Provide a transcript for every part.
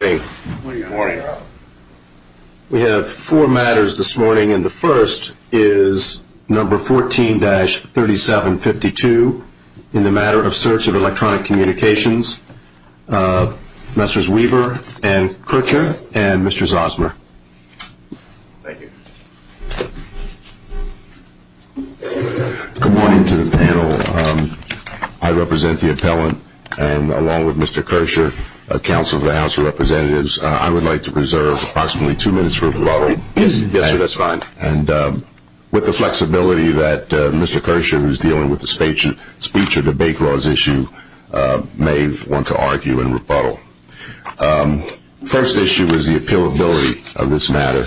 Good morning. We have four matters this morning and the first is number 14-3752, InThe Matter of Search of Electronic Communications. Messrs. Weaver and Kircher and Mr. Zosmer. Good morning to the panel. I represent the appellant and along with Mr. Kircher, a counsel of the House of Representatives, I would like to reserve approximately two minutes for rebuttal and with the flexibility that Mr. Kircher, who is dealing with the speech or debate laws issue, may want to argue and rebuttal. First issue is the appealability of this matter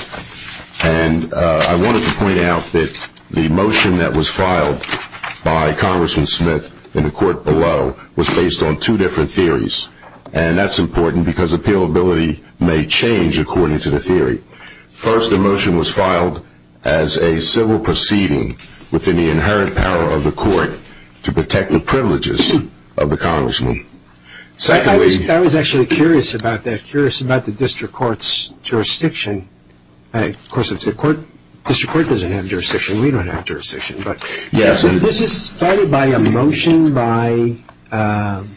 and I wanted to point out that the motion that was filed by Congressman Smith in the court below was based on two different theories and that's important because appealability may change according to the theory. First, the motion was filed as a civil proceeding within the inherent power of the court to protect the privileges of the Congressman. I was actually curious about that. Curious about the district court's jurisdiction. Of course, the district court doesn't have jurisdiction. We don't have jurisdiction. This is started by a motion by an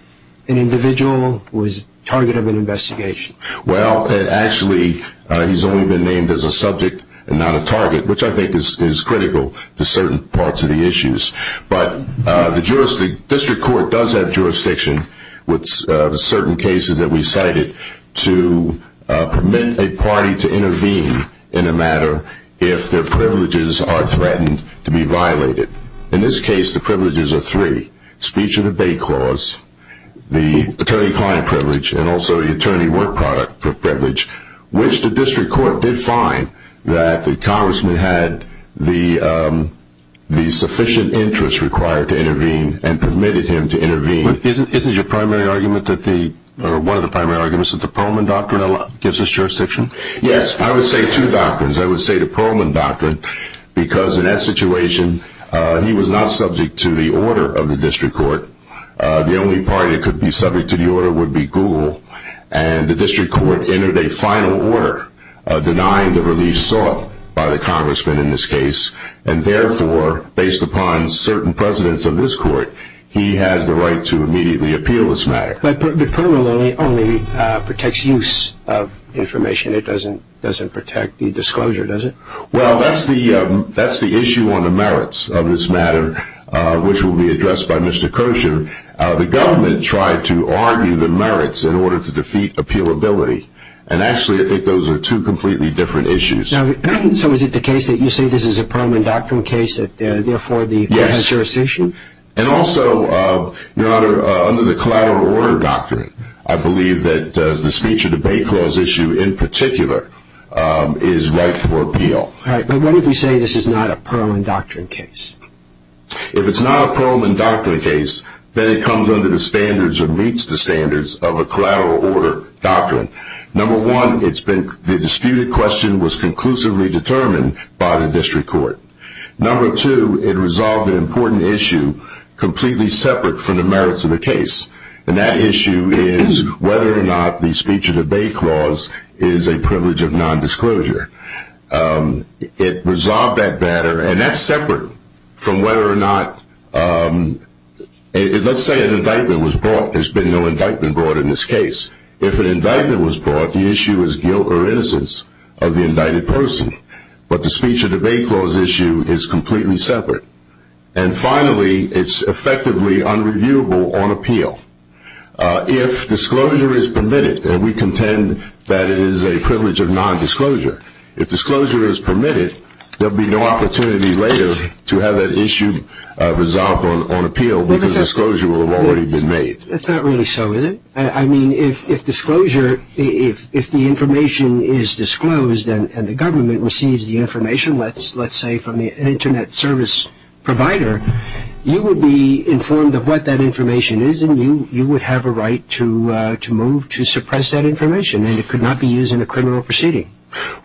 individual who is the target of an investigation. Well, actually, he's only been named as a subject and not a target, which I think is critical to certain parts of the issues. But the district court does have jurisdiction with certain cases that we cited to permit a party to intervene in a matter if their privileges are threatened to be violated. In this case, the privileges are three. Speech or debate clause, the attorney-client privilege, and also the attorney-work product privilege, which the district court did find that the Congressman had the sufficient interest required to intervene and permitted him to intervene. Isn't your primary argument, or one of the primary arguments, that the Perlman doctrine gives us jurisdiction? Yes, I would say two doctrines. I would say the Perlman doctrine, because in that situation, he was not subject to the order of the district court. The only party that could be subject to the order would be Google. And the district court entered a final order denying the release sought by the Congressman in this case. And therefore, based upon certain precedents of this court, he has the right to immediately appeal this matter. But the Perlman only protects use of information. It doesn't protect the disclosure, does it? Well, that's the issue on the merits of this matter, which will be addressed by Mr. Kirshner. The government tried to argue the merits in order to defeat appealability. And actually, I think those are two completely different issues. So is it the case that you say this is a Perlman doctrine case that therefore the court has jurisdiction? And also, Your Honor, under the collateral order doctrine, I believe that the speech or debate clause issue in particular is right for appeal. All right. But what if we say this is not a Perlman doctrine case? If it's not a Perlman doctrine case, then it comes under the standards or meets the standards of a collateral order doctrine. Number one, the disputed question was conclusively determined by the district court. Number two, it resolved an important issue completely separate from the merits of the case. And that issue is whether or not the speech or debate clause is a privilege of nondisclosure. It resolved that matter, and that's separate from whether or not, let's say an indictment was brought. There's been no indictment brought in this case. If an indictment was brought, the issue is guilt or innocence of the indicted person. But the speech or debate clause issue is completely separate. And finally, it's effectively unreviewable on appeal. If disclosure is permitted, and we contend that it is a privilege of nondisclosure, if disclosure is permitted, there will be no opportunity later to have that issue resolved on appeal because disclosure will have already been made. That's not really so, is it? I mean, if disclosure, if the information is disclosed and the government receives the information, let's say from an Internet service provider, you would be informed of what that information is, and you would have a right to move to suppress that information. And it could not be used in a criminal proceeding.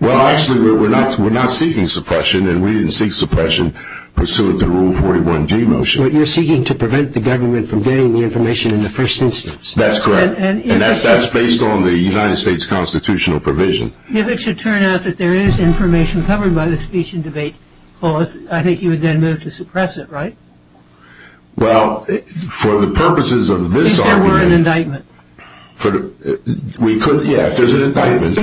Well, actually, we're not seeking suppression, and we didn't seek suppression pursuant to Rule 41G motion. But you're seeking to prevent the government from getting the information in the first instance. That's correct. And that's based on the United States constitutional provision. If it should turn out that there is information covered by the speech and debate clause, I think you would then move to suppress it, right? Well, for the purposes of this argument. If there were an indictment. Yeah, if there's an indictment,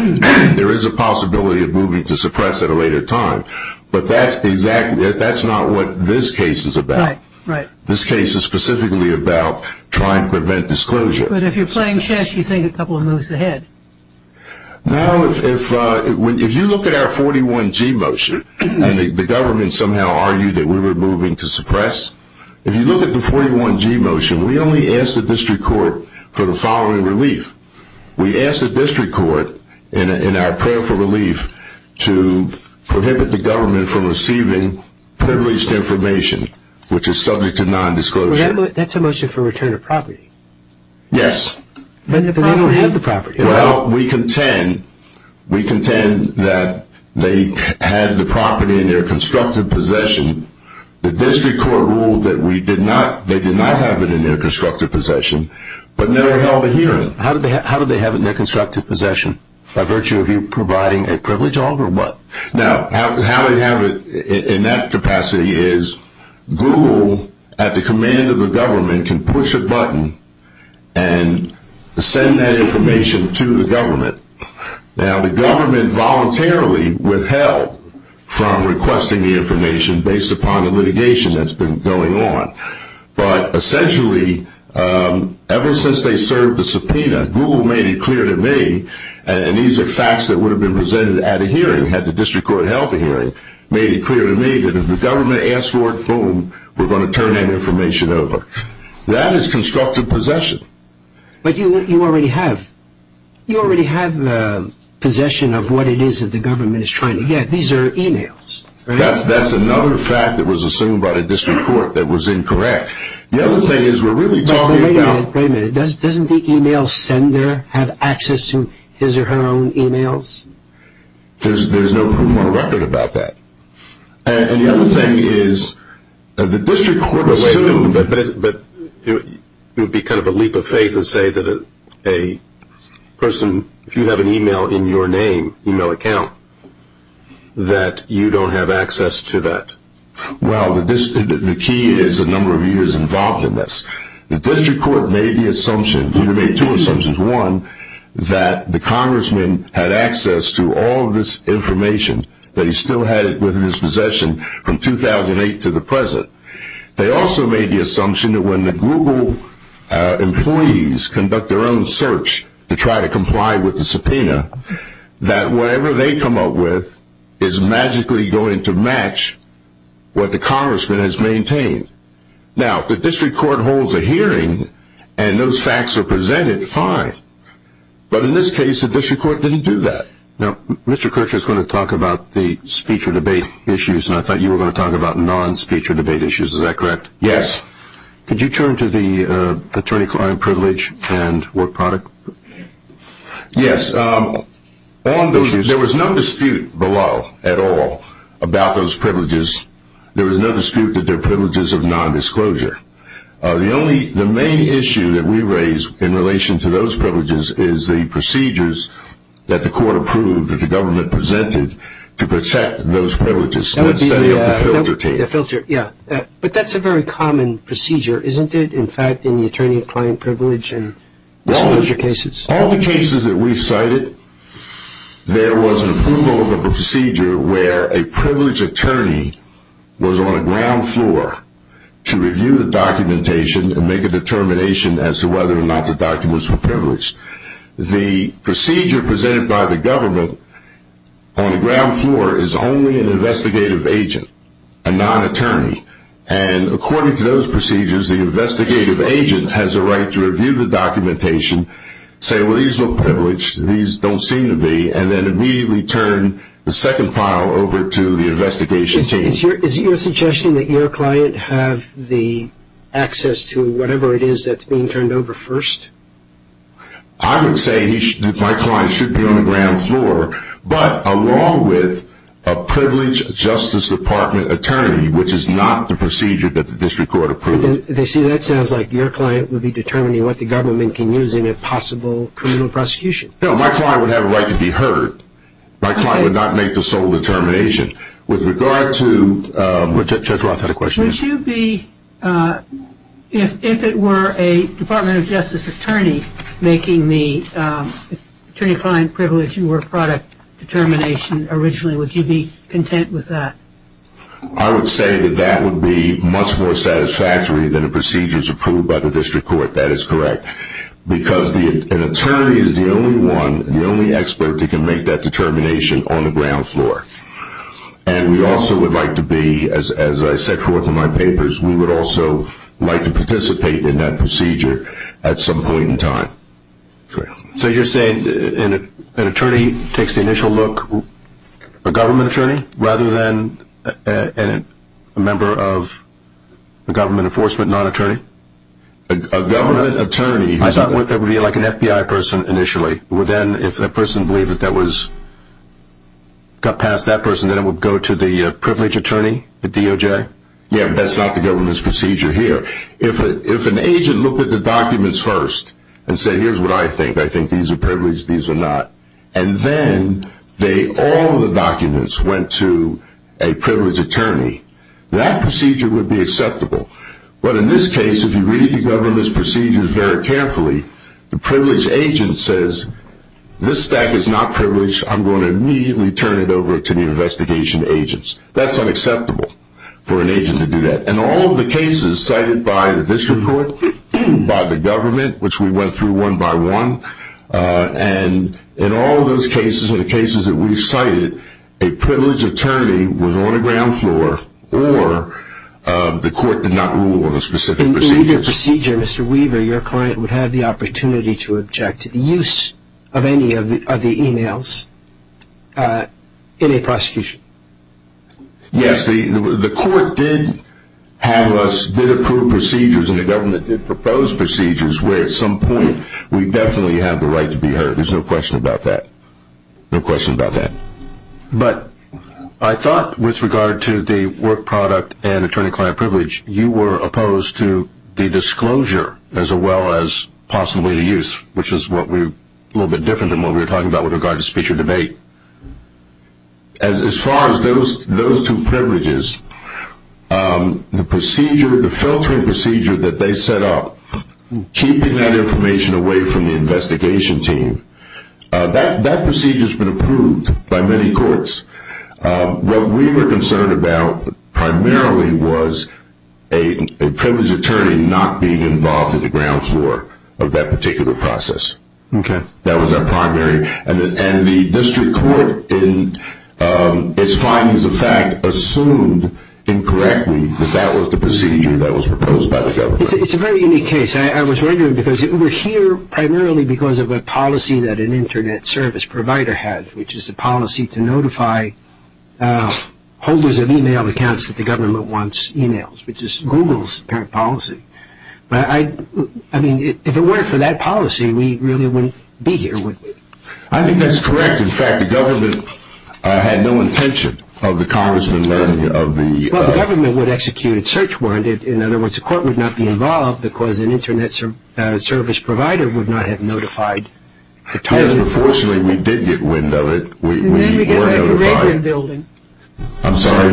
there is a possibility of moving to suppress at a later time. But that's not what this case is about. Right, right. This case is specifically about trying to prevent disclosure. But if you're playing chess, you think a couple of moves ahead. Now, if you look at our 41G motion, and the government somehow argued that we were moving to suppress, if you look at the 41G motion, we only asked the district court for the following relief. We asked the district court in our prayer for relief to prohibit the government from receiving privileged information, which is subject to nondisclosure. That's a motion for return of property. Yes. But they don't have the property. Well, we contend that they had the property in their constructive possession. The district court ruled that they did not have it in their constructive possession, but never held a hearing. How did they have it in their constructive possession? By virtue of you providing a privilege, Oliver, or what? Now, how they have it in that capacity is Google, at the command of the government, can push a button and send that information to the government. Now, the government voluntarily withheld from requesting the information based upon the litigation that's been going on. But essentially, ever since they served the subpoena, Google made it clear to me, and these are facts that would have been presented at a hearing, had the district court held a hearing, made it clear to me that if the government asked for it, boom, we're going to turn that information over. That is constructive possession. But you already have possession of what it is that the government is trying to get. These are e-mails. That's another fact that was assumed by the district court that was incorrect. The other thing is we're really talking about – Wait a minute. Doesn't the e-mail sender have access to his or her own e-mails? There's no proof on record about that. And the other thing is the district court assumed – But it would be kind of a leap of faith to say that a person, if you have an e-mail in your name, e-mail account, that you don't have access to that. Well, the key is the number of years involved in this. The district court made the assumption – Google made two assumptions. One, that the congressman had access to all of this information, that he still had it within his possession from 2008 to the present. They also made the assumption that when the Google employees conduct their own search to try to comply with the subpoena, that whatever they come up with is magically going to match what the congressman has maintained. Now, if the district court holds a hearing and those facts are presented, fine. But in this case, the district court didn't do that. Now, Mr. Kirchherr is going to talk about the speech or debate issues, and I thought you were going to talk about non-speech or debate issues. Is that correct? Yes. Could you turn to the attorney-client privilege and work product issues? Yes. There was no dispute below at all about those privileges. There was no dispute that they're privileges of nondisclosure. The main issue that we raised in relation to those privileges is the procedures that the court approved that the government presented to protect those privileges. That would be a filter, yeah. But that's a very common procedure, isn't it, in fact, in the attorney-client privilege and disclosure cases? All the cases that we cited, there was an approval of a procedure where a privileged attorney was on a ground floor to review the documentation and make a determination as to whether or not the documents were privileged. The procedure presented by the government on the ground floor is only an investigative agent, a non-attorney, and according to those procedures, the investigative agent has a right to review the documentation, say, well, these are privileged, these don't seem to be, and then immediately turn the second pile over to the investigation team. Is your suggestion that your client have the access to whatever it is that's being turned over first? I would say that my client should be on the ground floor, but along with a privileged Justice Department attorney, which is not the procedure that the district court approved. They say that sounds like your client would be determining what the government can use in a possible criminal prosecution. No, my client would have a right to be heard. My client would not make the sole determination. With regard to, Judge Roth had a question. Would you be, if it were a Department of Justice attorney making the attorney-client privilege and word-of-product determination originally, would you be content with that? I would say that that would be much more satisfactory than the procedures approved by the district court. That is correct. Because an attorney is the only one, the only expert that can make that determination on the ground floor. And we also would like to be, as I set forth in my papers, we would also like to participate in that procedure at some point in time. So you're saying an attorney takes the initial look, a government attorney, rather than a member of a government enforcement non-attorney? A government attorney. I thought that would be like an FBI person initially. Well, then if that person believed that that was, got past that person, then it would go to the privilege attorney, the DOJ? Yeah, but that's not the government's procedure here. If an agent looked at the documents first and said, here's what I think, I think these are privileged, these are not, and then all the documents went to a privilege attorney, that procedure would be acceptable. But in this case, if you read the government's procedures very carefully, the privilege agent says, this stack is not privileged, I'm going to immediately turn it over to the investigation agents. That's unacceptable for an agent to do that. In all of the cases cited by the district court, by the government, which we went through one by one, and in all those cases, in the cases that we've cited, a privilege attorney was on the ground floor or the court did not rule on the specific procedures. In either procedure, Mr. Weaver, your client would have the opportunity to object to the use of any of the e-mails in a prosecution? Yes, the court did have us, did approve procedures and the government did propose procedures where at some point we definitely have the right to be heard. There's no question about that. No question about that. But I thought with regard to the work product and attorney-client privilege, you were opposed to the disclosure as well as possibly the use, which is a little bit different than what we were talking about with regard to speech or debate. As far as those two privileges, the filtering procedure that they set up, keeping that information away from the investigation team, that procedure has been approved by many courts. What we were concerned about primarily was a privilege attorney not being involved at the ground floor of that particular process. That was our primary. And the district court, in its findings of fact, assumed incorrectly that that was the procedure that was proposed by the government. It's a very unique case. I was wondering because we're here primarily because of a policy that an Internet service provider has, which is a policy to notify holders of e-mail accounts that the government wants e-mails, which is Google's parent policy. I mean, if it weren't for that policy, we really wouldn't be here. I think that's correct. In fact, the government had no intention of the Congressman learning of the- Well, the government would execute a search warrant. In other words, the court would not be involved because an Internet service provider would not have notified- Yes, but fortunately we did get wind of it. I'm sorry?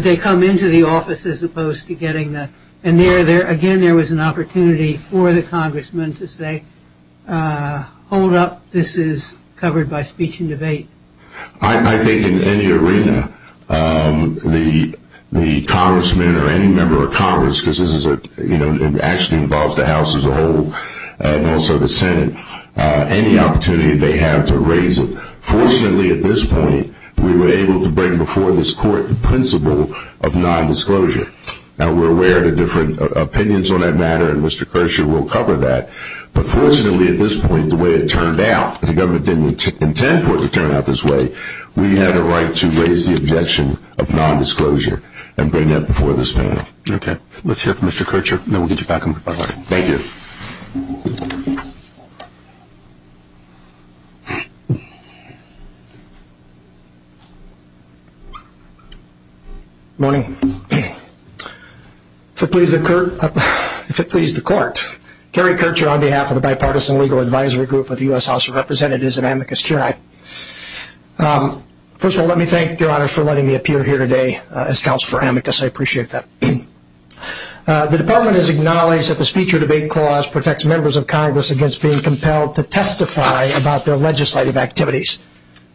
They come into the office as opposed to getting the- And again, there was an opportunity for the Congressman to say, hold up, this is covered by speech and debate. I think in any arena, the Congressman or any member of Congress, because this actually involves the House as a whole and also the Senate, any opportunity they have to raise it. Fortunately, at this point, we were able to bring before this court the principle of nondisclosure. Now, we're aware of different opinions on that matter, and Mr. Kirchherr will cover that. But fortunately, at this point, the way it turned out, the government didn't intend for it to turn out this way. We had a right to raise the objection of nondisclosure and bring that before this panel. Okay. Let's hear from Mr. Kirchherr. Then we'll get you back on the line. Thank you. Good morning. If it pleases the court, Kerry Kirchherr on behalf of the Bipartisan Legal Advisory Group of the U.S. House of Representatives and Amicus Curiae. First of all, let me thank your Honor for letting me appear here today as Counsel for Amicus. I appreciate that. The Department has acknowledged that the speech or debate clause protects members of Congress against being compelled to testify about their legislative activities.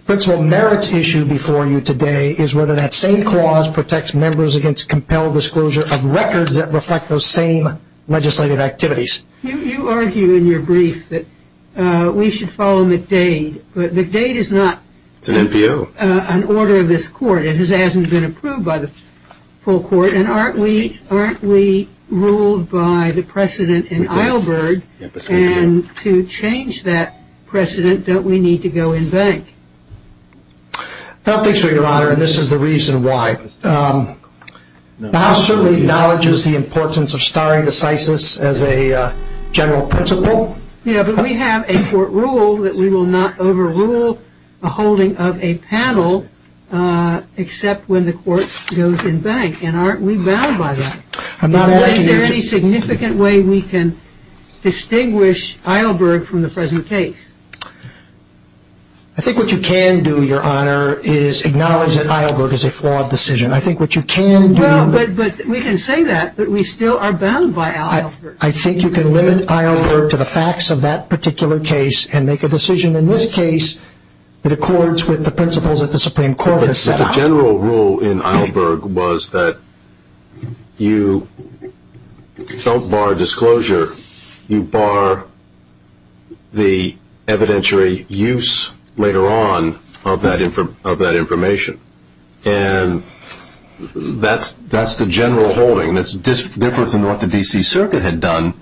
The principle merits issued before you today is whether that same clause protects members against compelled disclosure of records that reflect those same legislative activities. You argue in your brief that we should follow McDade. But McDade is not an order of this court. It hasn't been approved by the full court. And aren't we ruled by the precedent in Eilberg? And to change that precedent, don't we need to go in bank? No, thanks for your Honor. And this is the reason why. The House certainly acknowledges the importance of starring decisis as a general principle. Yeah, but we have a court rule that we will not overrule the holding of a panel except when the court goes in bank. And aren't we bound by that? Is there any significant way we can distinguish Eilberg from the present case? I think what you can do, your Honor, is acknowledge that Eilberg is a flawed decision. I think what you can do ñ Well, but we can say that, but we still are bound by Eilberg. I think you can limit Eilberg to the facts of that particular case and make a decision in this case The general rule in Eilberg was that you don't bar disclosure. You bar the evidentiary use later on of that information. And that's the general holding. That's different from what the D.C. Circuit had done.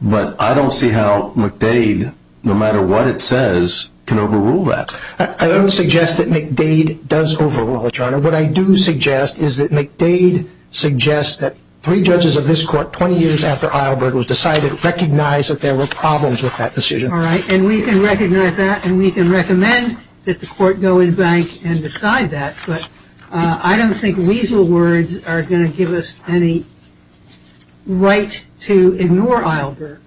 But I don't see how McDade, no matter what it says, can overrule that. I don't suggest that McDade does overrule it, your Honor. What I do suggest is that McDade suggests that three judges of this court 20 years after Eilberg was decided recognize that there were problems with that decision. All right, and we can recognize that and we can recommend that the court go in bank and decide that. But I don't think weasel words are going to give us any right to ignore Eilberg.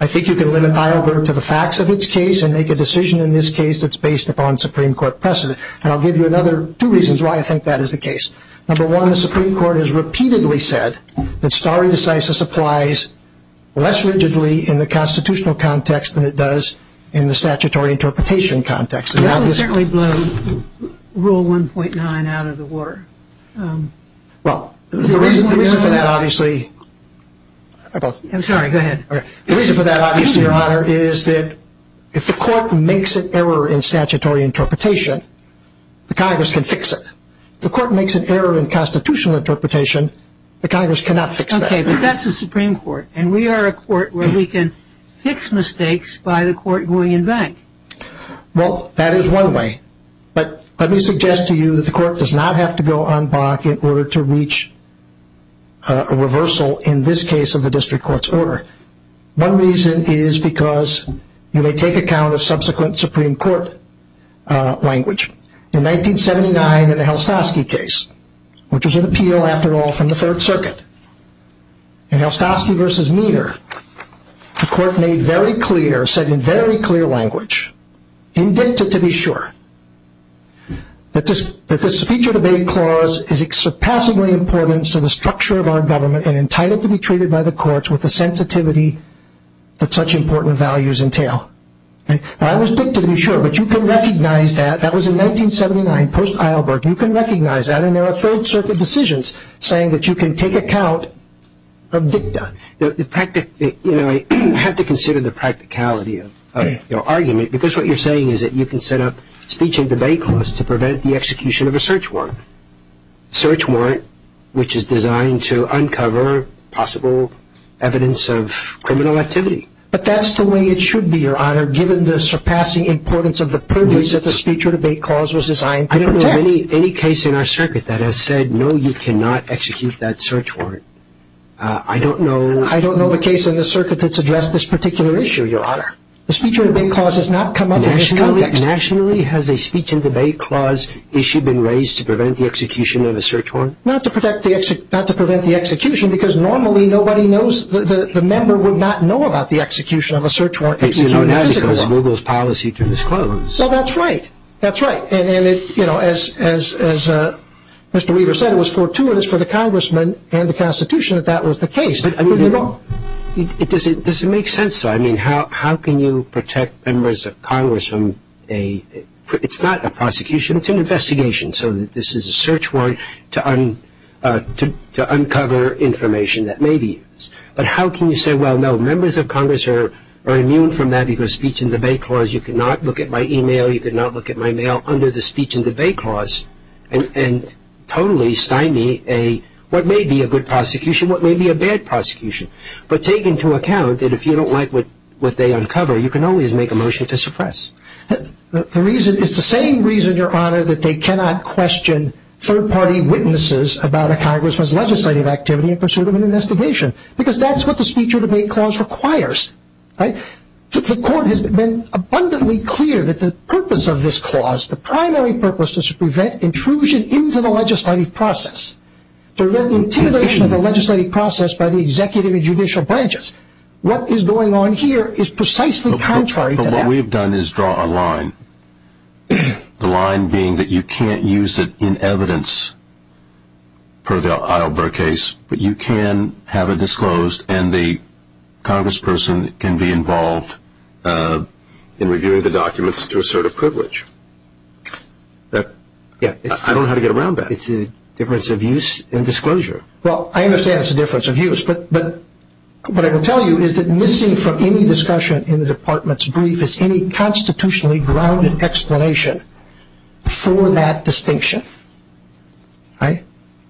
I think you can limit Eilberg to the facts of its case and make a decision in this case that's based upon Supreme Court precedent. And I'll give you another two reasons why I think that is the case. Number one, the Supreme Court has repeatedly said that stare decisis applies less rigidly in the constitutional context than it does in the statutory interpretation context. That would certainly blow Rule 1.9 out of the water. Well, the reason for that obviously I'm sorry, go ahead. The reason for that obviously, your Honor, is that if the court makes an error in statutory interpretation, the Congress can fix it. If the court makes an error in constitutional interpretation, the Congress cannot fix that. Okay, but that's the Supreme Court. And we are a court where we can fix mistakes by the court going in bank. Well, that is one way. But let me suggest to you that the court does not have to go on bank in order to reach a reversal in this case of the district court's order. One reason is because you may take account of subsequent Supreme Court language. In 1979, in the Helstosky case, which was an appeal after all from the Third Circuit, in Helstosky v. Meader, the court made very clear, said in very clear language, in dicta to be sure, that the speech or debate clause is except passably important to the structure of our government and entitled to be treated by the courts with the sensitivity that such important values entail. Now, that was dicta to be sure, but you can recognize that. That was in 1979, post Eilberg. You can recognize that. And there are Third Circuit decisions saying that you can take account of dicta. You have to consider the practicality of your argument, because what you're saying is that you can set up speech and debate clause to prevent the execution of a search warrant, a search warrant which is designed to uncover possible evidence of criminal activity. But that's the way it should be, Your Honor, given the surpassing importance of the privilege that the speech or debate clause was designed to protect. I don't know of any case in our circuit that has said, no, you cannot execute that search warrant. I don't know. I don't know of a case in the circuit that's addressed this particular issue, Your Honor. The speech or debate clause has not come up in this context. Nationally, has a speech and debate clause issue been raised to prevent the execution of a search warrant? Not to prevent the execution, because normally nobody knows, the member would not know about the execution of a search warrant, executing a physical warrant. You know that because of Google's policy to disclose. Well, that's right. That's right. And, you know, as Mr. Weaver said, it was fortuitous for the congressman and the Constitution that that was the case. Does it make sense, though? I mean, how can you protect members of Congress from a – it's not a prosecution, it's an investigation. So this is a search warrant to uncover information that may be used. But how can you say, well, no, members of Congress are immune from that under the speech and debate clause and totally stymie what may be a good prosecution, what may be a bad prosecution. But take into account that if you don't like what they uncover, you can always make a motion to suppress. It's the same reason, Your Honor, that they cannot question third-party witnesses about a congressman's legislative activity in pursuit of an investigation, because that's what the speech or debate clause requires. The court has been abundantly clear that the purpose of this clause, the primary purpose is to prevent intrusion into the legislative process, to prevent intimidation of the legislative process by the executive and judicial branches. What is going on here is precisely contrary to that. But what we've done is draw a line. The line being that you can't use it in evidence per the Eilber case, but you can have it disclosed and the congressperson can be involved in reviewing the documents to assert a privilege. I don't know how to get around that. It's a difference of use and disclosure. Well, I understand it's a difference of use, but what I can tell you is that missing from any discussion in the Department's brief is any constitutionally grounded explanation for that distinction. Right?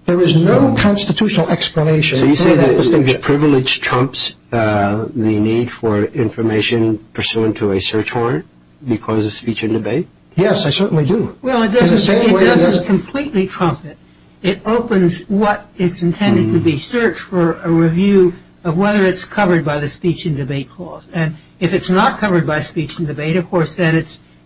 There is no constitutional explanation. So you say that this thing, this privilege, trumps the need for information pursuant to a search warrant because of speech and debate? Yes, I certainly do. Well, it doesn't completely trump it. It opens what is intended to be searched for a review of whether it's covered by the speech and debate clause. And if it's not covered by speech and debate, of course, then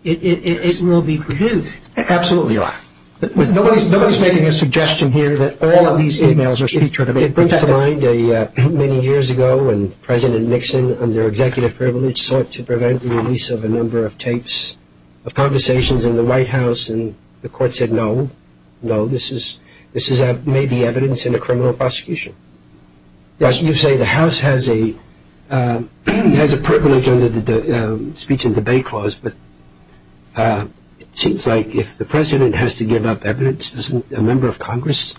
it will be produced. Absolutely right. Nobody is making a suggestion here that all of these emails are speech or debate. It brings to mind many years ago when President Nixon, under executive privilege, sought to prevent the release of a number of tapes of conversations in the White House, and the court said no, no, this may be evidence in a criminal prosecution. You say the House has a privilege under the speech and debate clause, but it seems like if the President has to give up evidence, doesn't a member of Congress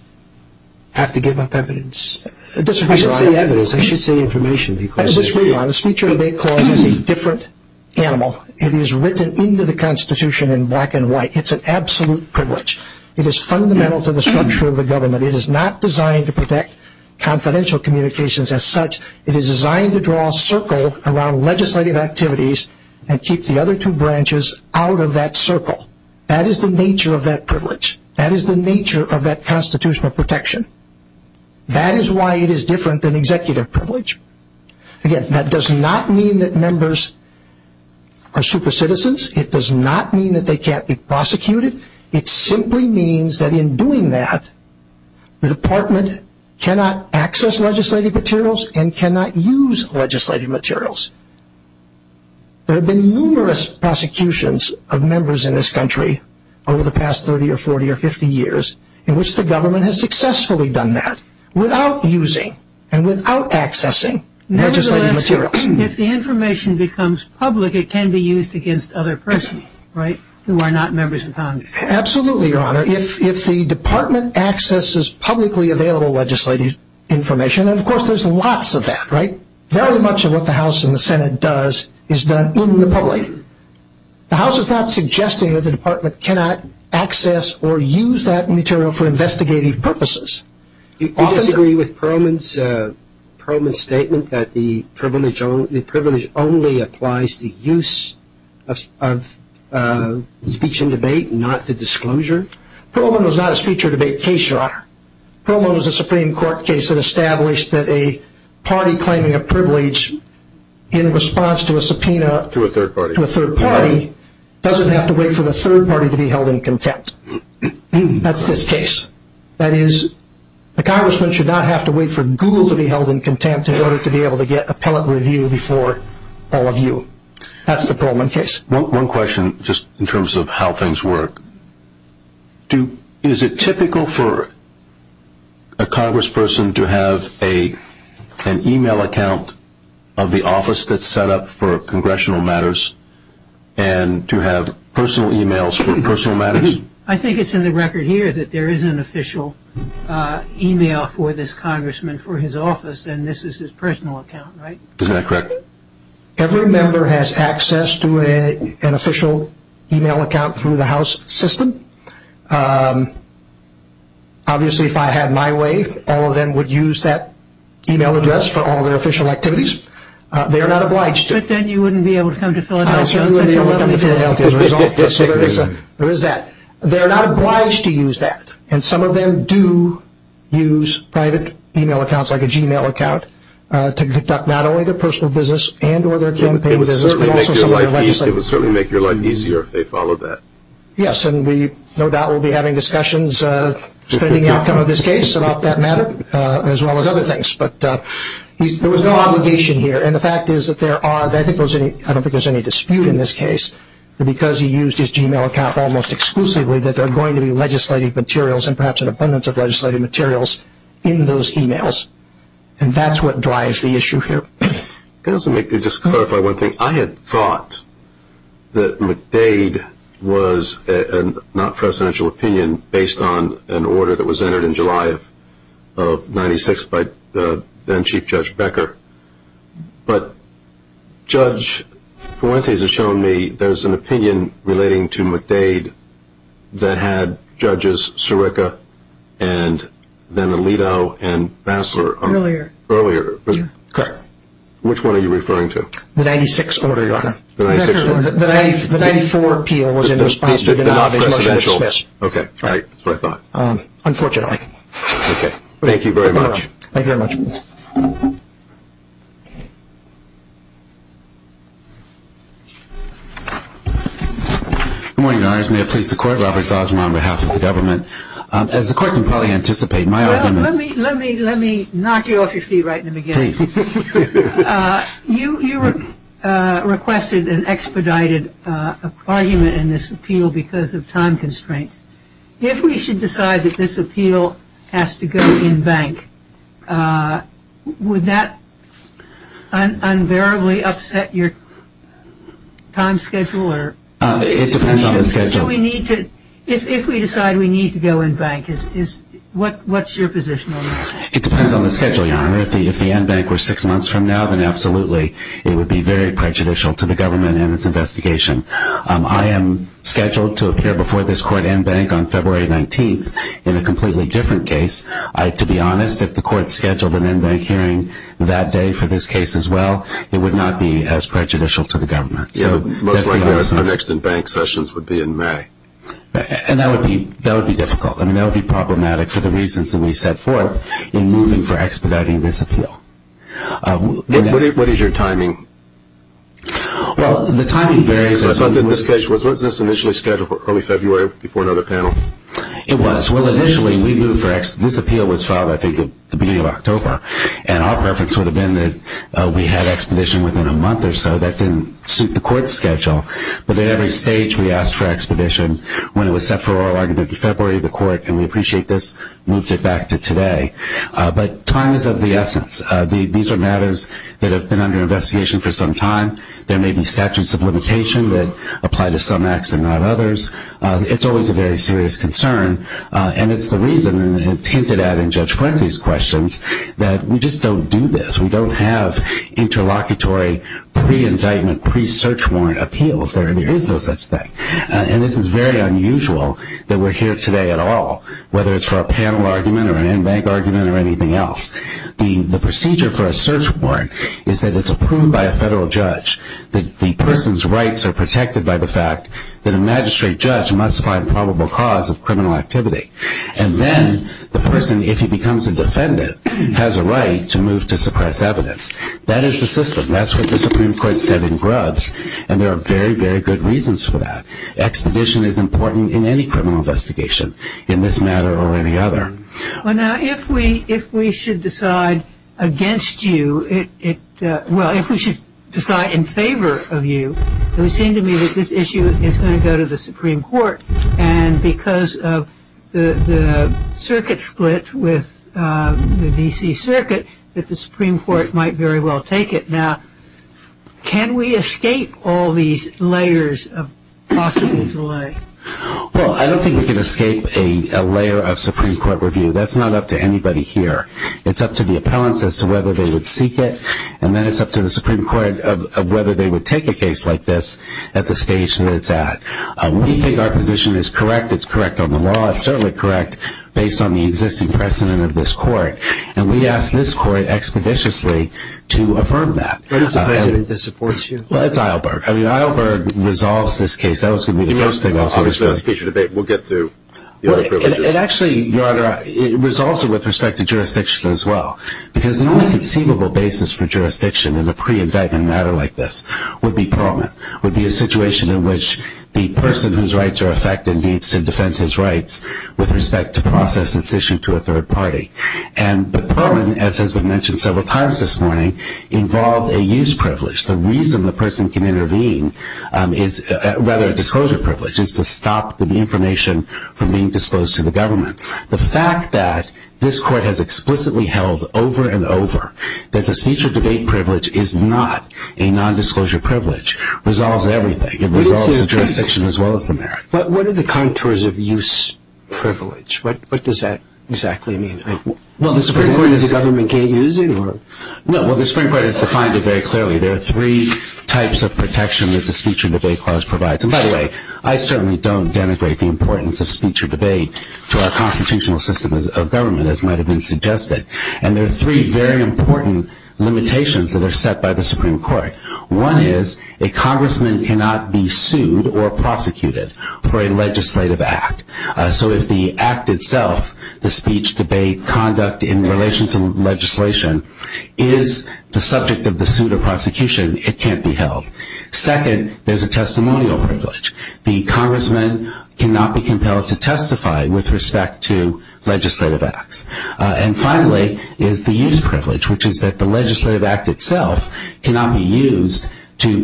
have to give up evidence? I should say evidence. I should say information. I disagree. The speech and debate clause is a different animal. It is written into the Constitution in black and white. It's an absolute privilege. It is fundamental to the structure of the government. It is not designed to protect confidential communications as such. It is designed to draw a circle around legislative activities and keep the other two branches out of that circle. That is the nature of that privilege. That is the nature of that constitutional protection. That is why it is different than executive privilege. Again, that does not mean that members are super citizens. It does not mean that they can't be prosecuted. It simply means that in doing that, the Department cannot access legislative materials and cannot use legislative materials. There have been numerous prosecutions of members in this country over the past 30 or 40 or 50 years in which the government has successfully done that without using and without accessing legislative materials. If the information becomes public, it can be used against other persons, right, who are not members of Congress. Absolutely, Your Honor. If the Department accesses publicly available legislative information, and of course there's lots of that, right, very much of what the House and the Senate does is done in the public. The House is not suggesting that the Department cannot access or use that material for investigative purposes. Do you disagree with Perlman's statement that the privilege only applies to use of speech and debate, not the disclosure? Perlman was not a speech or debate case, Your Honor. Perlman was a Supreme Court case that established that a party claiming a privilege in response to a subpoena to a third party to a third party doesn't have to wait for the third party to be held in contempt. That's this case. That is, a congressman should not have to wait for Google to be held in contempt in order to be able to get appellate review before all of you. That's the Perlman case. One question just in terms of how things work. Is it typical for a congressperson to have an e-mail account of the office that's set up for congressional matters and to have personal e-mails for personal matters? I think it's in the record here that there is an official e-mail for this congressman for his office and this is his personal account, right? Is that correct? Every member has access to an official e-mail account through the House system. Obviously, if I had my way, all of them would use that e-mail address for all their official activities. They are not obliged to. But then you wouldn't be able to come to Philadelphia. There is that. They are not obliged to use that. And some of them do use private e-mail accounts, like a Gmail account, to conduct not only their personal business and or their campaign business. It would certainly make your life easier if they followed that. Yes, and we no doubt will be having discussions spending the outcome of this case about that matter, as well as other things. But there was no obligation here. And the fact is that there are, I don't think there is any dispute in this case, that because he used his Gmail account almost exclusively, that there are going to be legislative materials and perhaps an abundance of legislative materials in those e-mails. And that's what drives the issue here. Just to clarify one thing, I had thought that McDade was a non-presidential opinion based on an order that was entered in July of 1996 by then Chief Judge Becker. But Judge Fuentes has shown me there is an opinion relating to McDade that had Judges Sirica and then Alito and Bassler earlier. Correct. Which one are you referring to? The 96 order, Your Honor. The 94 appeal was in response to the non-presidential. Okay, that's what I thought. Unfortunately. Okay. Thank you very much. Thank you very much. Good morning, Your Honors. May it please the Court, Robert Salzman on behalf of the government. As the Court can probably anticipate, my argument is Well, let me knock you off your feet right in the beginning. Please. You requested and expedited an argument in this appeal because of time constraints. If we should decide that this appeal has to go in bank, would that unbearably upset your time schedule? It depends on the schedule. If we decide we need to go in bank, what's your position on that? It depends on the schedule, Your Honor. If the end bank were six months from now, then absolutely it would be very prejudicial to the government and its investigation. I am scheduled to appear before this Court in bank on February 19th in a completely different case. To be honest, if the Court scheduled an end bank hearing that day for this case as well, it would not be as prejudicial to the government. Our next in bank sessions would be in May. That would be difficult. That would be problematic for the reasons that we set forth in moving for expediting this appeal. What is your timing? Well, the timing varies. I thought that this case was initially scheduled for early February before another panel. It was. Well, initially we moved for expediting. This appeal was filed, I think, at the beginning of October, and our preference would have been that we had expedition within a month or so. That didn't suit the Court's schedule. But at every stage we asked for expedition when it was set for oral argument in February of the Court, and we appreciate this moved it back to today. But time is of the essence. These are matters that have been under investigation for some time. There may be statutes of limitation that apply to some acts and not others. It's always a very serious concern, and it's the reason, and it's hinted at in Judge Fuente's questions, that we just don't do this. We don't have interlocutory pre-indictment, pre-search warrant appeals. There really is no such thing. And this is very unusual that we're here today at all, whether it's for a panel argument or an end bank argument or anything else. The procedure for a search warrant is that it's approved by a federal judge. The person's rights are protected by the fact that a magistrate judge must find probable cause of criminal activity. And then the person, if he becomes a defendant, has a right to move to suppress evidence. That is the system. That's what the Supreme Court said in Grubbs, and there are very, very good reasons for that. Expedition is important in any criminal investigation in this matter or any other. Well, now, if we should decide against you, well, if we should decide in favor of you, it would seem to me that this issue is going to go to the Supreme Court, and because of the circuit split with the D.C. Circuit, that the Supreme Court might very well take it. Now, can we escape all these layers of possible delay? Well, I don't think we can escape a layer of Supreme Court review. That's not up to anybody here. It's up to the appellants as to whether they would seek it, and then it's up to the Supreme Court of whether they would take a case like this at the stage that it's at. We think our position is correct. It's correct on the law. It's certainly correct based on the existing precedent of this court, and we ask this court expeditiously to affirm that. What is the precedent that supports you? Well, it's Eilberg. I mean, Eilberg resolves this case. That was going to be the first thing I was going to say. Obviously, that's future debate. We'll get to the other privileges. Actually, Your Honor, it resolves it with respect to jurisdiction as well, because the only conceivable basis for jurisdiction in a pre-indictment matter like this would be Perlman, would be a situation in which the person whose rights are affected needs to defend his rights with respect to process incision to a third party. But Perlman, as has been mentioned several times this morning, involved a used privilege. The reason the person can intervene is rather a disclosure privilege, is to stop the information from being disclosed to the government. The fact that this court has explicitly held over and over that the speech or debate privilege is not a nondisclosure privilege resolves everything. It resolves the jurisdiction as well as the merits. But what are the contours of used privilege? What does that exactly mean? Well, the Supreme Court is the government can't use it? No, well, the Supreme Court has defined it very clearly. There are three types of protection that the speech or debate clause provides. And by the way, I certainly don't denigrate the importance of speech or debate to our constitutional system of government, as might have been suggested. And there are three very important limitations that are set by the Supreme Court. One is a congressman cannot be sued or prosecuted for a legislative act. So if the act itself, the speech, debate, conduct in relation to legislation, is the subject of the suit or prosecution, it can't be held. Second, there's a testimonial privilege. The congressman cannot be compelled to testify with respect to legislative acts. And finally is the use privilege, which is that the legislative act itself cannot be used in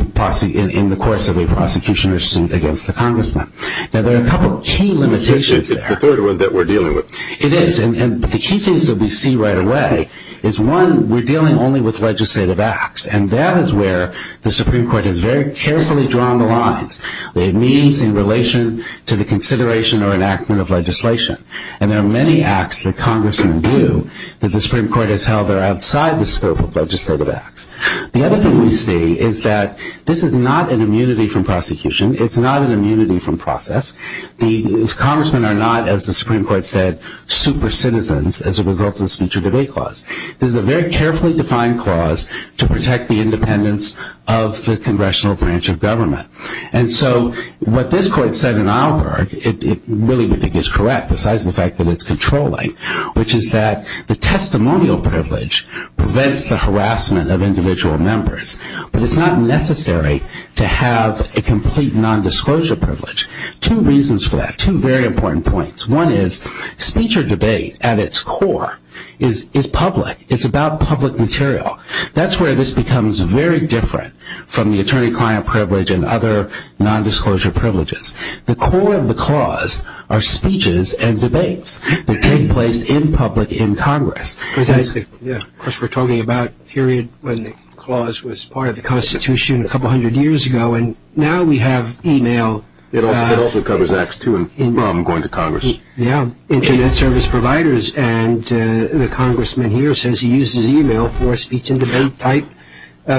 the course of a prosecution or suit against the congressman. Now, there are a couple of key limitations there. It's the third one that we're dealing with. It is. And the key things that we see right away is, one, we're dealing only with legislative acts. And that is where the Supreme Court has very carefully drawn the lines. They have means in relation to the consideration or enactment of legislation. And there are many acts that congressmen do that the Supreme Court has held that are outside the scope of legislative acts. The other thing we see is that this is not an immunity from prosecution. It's not an immunity from process. The congressmen are not, as the Supreme Court said, super citizens as a result of the speech or debate clause. This is a very carefully defined clause to protect the independence of the congressional branch of government. And so what this court said in Auerberg, it really is correct, besides the fact that it's controlling, which is that the testimonial privilege prevents the harassment of individual members. But it's not necessary to have a complete nondisclosure privilege. Two reasons for that, two very important points. One is speech or debate at its core is public. It's about public material. That's where this becomes very different from the attorney-client privilege and other nondisclosure privileges. The core of the clause are speeches and debates that take place in public in Congress. Of course, we're talking about a period when the clause was part of the Constitution a couple hundred years ago. And now we have e-mail. It also covers acts to and from going to Congress. Yeah, Internet service providers. And the congressman here says he uses e-mail for speech and debate type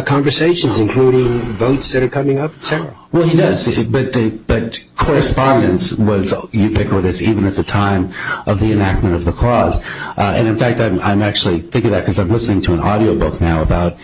conversations, including votes that are coming up, et cetera. Well, he does. But correspondence was ubiquitous even at the time of the enactment of the clause. And, in fact, I'm actually thinking of that because I'm listening to an audio book now that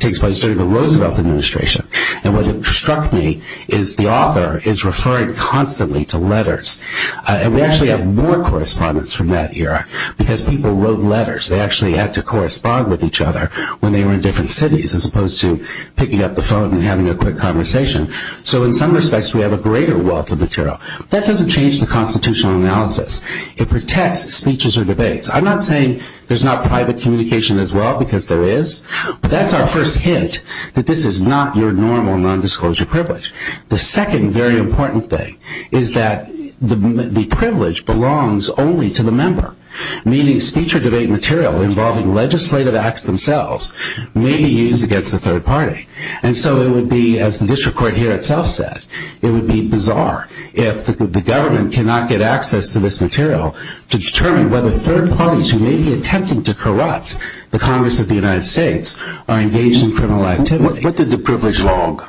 takes place during the Roosevelt administration and what struck me is the author is referring constantly to letters. And we actually have more correspondence from that era because people wrote letters. They actually had to correspond with each other when they were in different cities as opposed to picking up the phone and having a quick conversation. So, in some respects, we have a greater wealth of material. That doesn't change the constitutional analysis. It protects speeches or debates. I'm not saying there's not private communication as well because there is, but that's our first hint that this is not your normal nondisclosure privilege. The second very important thing is that the privilege belongs only to the member, meaning speech or debate material involving legislative acts themselves may be used against the third party. And so it would be, as the district court here itself said, it would be bizarre if the government cannot get access to this material to determine whether third parties who may be attempting to corrupt the Congress of the United States are engaged in criminal activity. What did the privilege log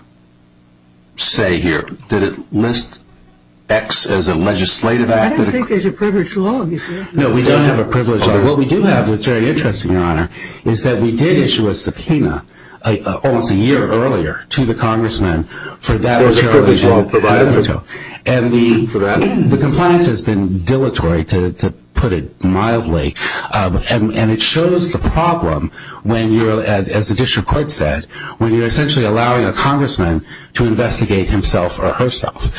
say here? Did it list X as a legislative act? I don't think there's a privilege log. No, we don't have a privilege log. What we do have that's very interesting, Your Honor, is that we did issue a subpoena almost a year earlier to the congressman for that material. There was a privilege log provided. And the compliance has been dilatory, to put it mildly, and it shows the problem, as the district court said, when you're essentially allowing a congressman to investigate himself or herself.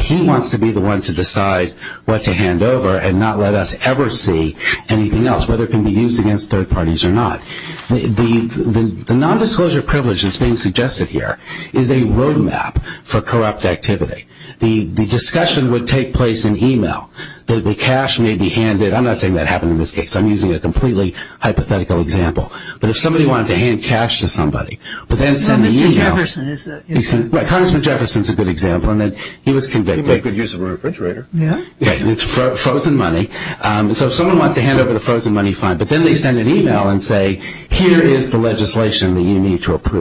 He wants to be the one to decide what to hand over and not let us ever see anything else, whether it can be used against third parties or not. The nondisclosure privilege that's being suggested here is a roadmap for corrupt activity. The discussion would take place in e-mail. The cash may be handed. I'm not saying that happened in this case. I'm using a completely hypothetical example. But if somebody wanted to hand cash to somebody but then send an e-mail. Well, Mr. Jefferson is a good example. Congressman Jefferson is a good example in that he was convicted. He made good use of a refrigerator. Yeah. It's frozen money. So if someone wants to hand over the frozen money, fine. But then they send an e-mail and say, here is the legislation that you need to approve.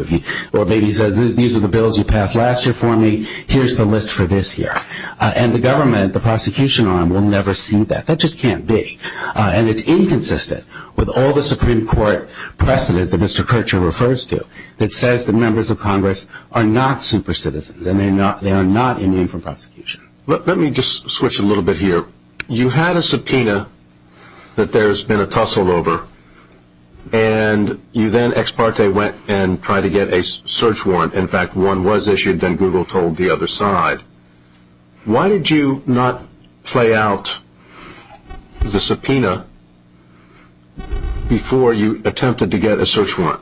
Or maybe he says, these are the bills you passed last year for me. Here's the list for this year. And the government, the prosecution arm, will never see that. That just can't be. And it's inconsistent with all the Supreme Court precedent that Mr. Kirchherr refers to that says that members of Congress are not super citizens and they are not immune from prosecution. Let me just switch a little bit here. You had a subpoena that there has been a tussle over. And you then, ex parte, went and tried to get a search warrant. In fact, one was issued. Then Google told the other side. Why did you not play out the subpoena before you attempted to get a search warrant?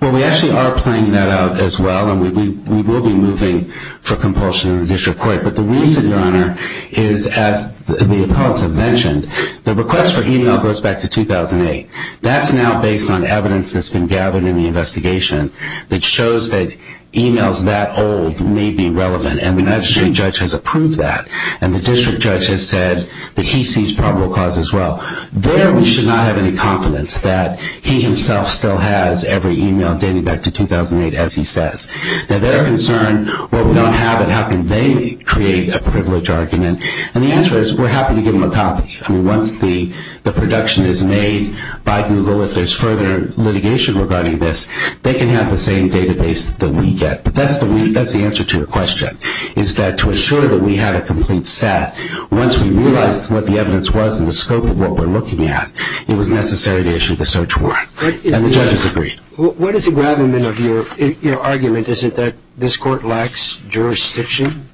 Well, we actually are playing that out as well. And we will be moving for compulsion in the district court. But the reason, Your Honor, is as the appellants have mentioned, the request for e-mail goes back to 2008. That's now based on evidence that's been gathered in the investigation that shows that e-mails that old may be relevant. And the magistrate judge has approved that. And the district judge has said that he sees probable cause as well. There we should not have any confidence that he himself still has every e-mail dating back to 2008, as he says. Now, their concern, well, we don't have it. How can they create a privilege argument? And the answer is we're happy to give them a copy. I mean, once the production is made by Google, if there's further litigation regarding this, they can have the same database that we get. But that's the answer to your question, is that to assure that we have a complete set, once we realized what the evidence was and the scope of what we're looking at, it was necessary to issue the search warrant. And the judges agreed. What is the gravamen of your argument? Is it that this court lacks jurisdiction?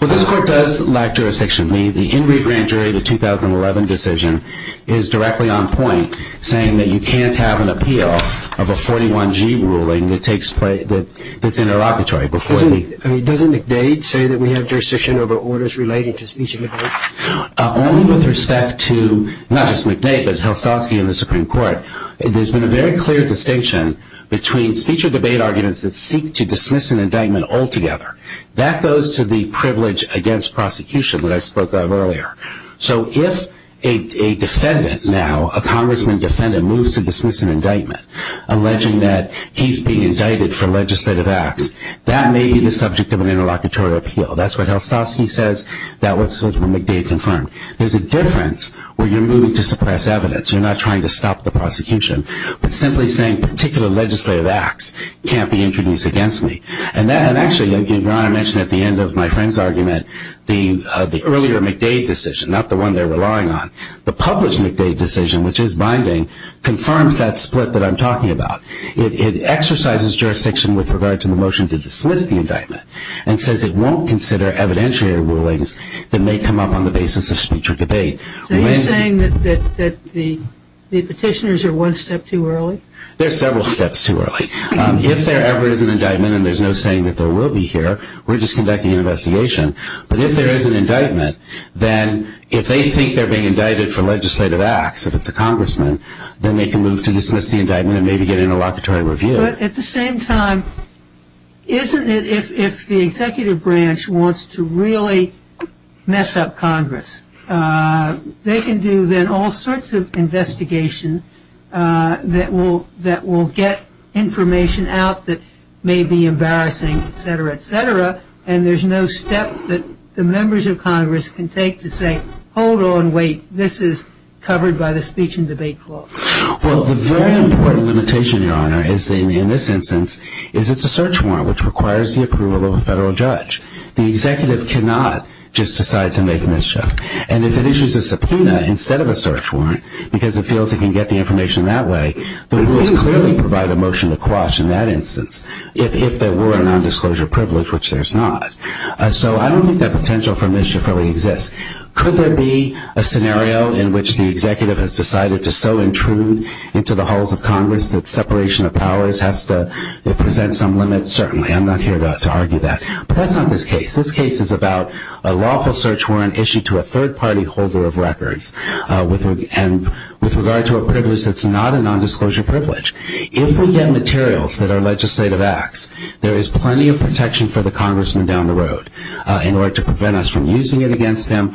Well, this court does lack jurisdiction. The Henry Grant jury, the 2011 decision, is directly on point, saying that you can't have an appeal of a 41G ruling that takes place, that's interoperatory. I mean, doesn't McDade say that we have jurisdiction over orders related to speech and memory? Only with respect to, not just McDade, but Helstowski and the Supreme Court. There's been a very clear distinction between speech or debate arguments that seek to dismiss an indictment altogether. That goes to the privilege against prosecution that I spoke of earlier. So if a defendant now, a congressman defendant, moves to dismiss an indictment, alleging that he's being indicted for legislative acts, that may be the subject of an interlocutory appeal. That's what Helstowski says. That's what McDade confirmed. There's a difference where you're moving to suppress evidence. You're not trying to stop the prosecution. But simply saying particular legislative acts can't be introduced against me. And actually, Your Honor mentioned at the end of my friend's argument, the earlier McDade decision, not the one they're relying on, the published McDade decision, which is binding, confirms that split that I'm talking about. It exercises jurisdiction with regard to the motion to dismiss the indictment and says it won't consider evidentiary rulings that may come up on the basis of speech or debate. So you're saying that the petitioners are one step too early? They're several steps too early. If there ever is an indictment, and there's no saying that there will be here, we're just conducting an investigation. But if there is an indictment, then if they think they're being indicted for legislative acts, if it's a congressman, then they can move to dismiss the indictment and maybe get an interlocutory review. But at the same time, isn't it if the executive branch wants to really mess up Congress, they can do then all sorts of investigation that will get information out that may be embarrassing, et cetera, et cetera, and there's no step that the members of Congress can take to say, hold on, wait, this is covered by the speech and debate clause. Well, the very important limitation, Your Honor, in this instance, is it's a search warrant which requires the approval of a federal judge. The executive cannot just decide to make a mischief. And if it issues a subpoena instead of a search warrant because it feels it can get the information that way, the rules clearly provide a motion to quash in that instance if there were a nondisclosure privilege, which there's not. So I don't think that potential for mischief really exists. Could there be a scenario in which the executive has decided to so intrude into the halls of Congress that separation of powers has to present some limit? Certainly, I'm not here to argue that. But that's not this case. This case is about a lawful search warrant issued to a third-party holder of records with regard to a privilege that's not a nondisclosure privilege. If we get materials that are legislative acts, there is plenty of protection for the congressman down the road in order to prevent us from using it against him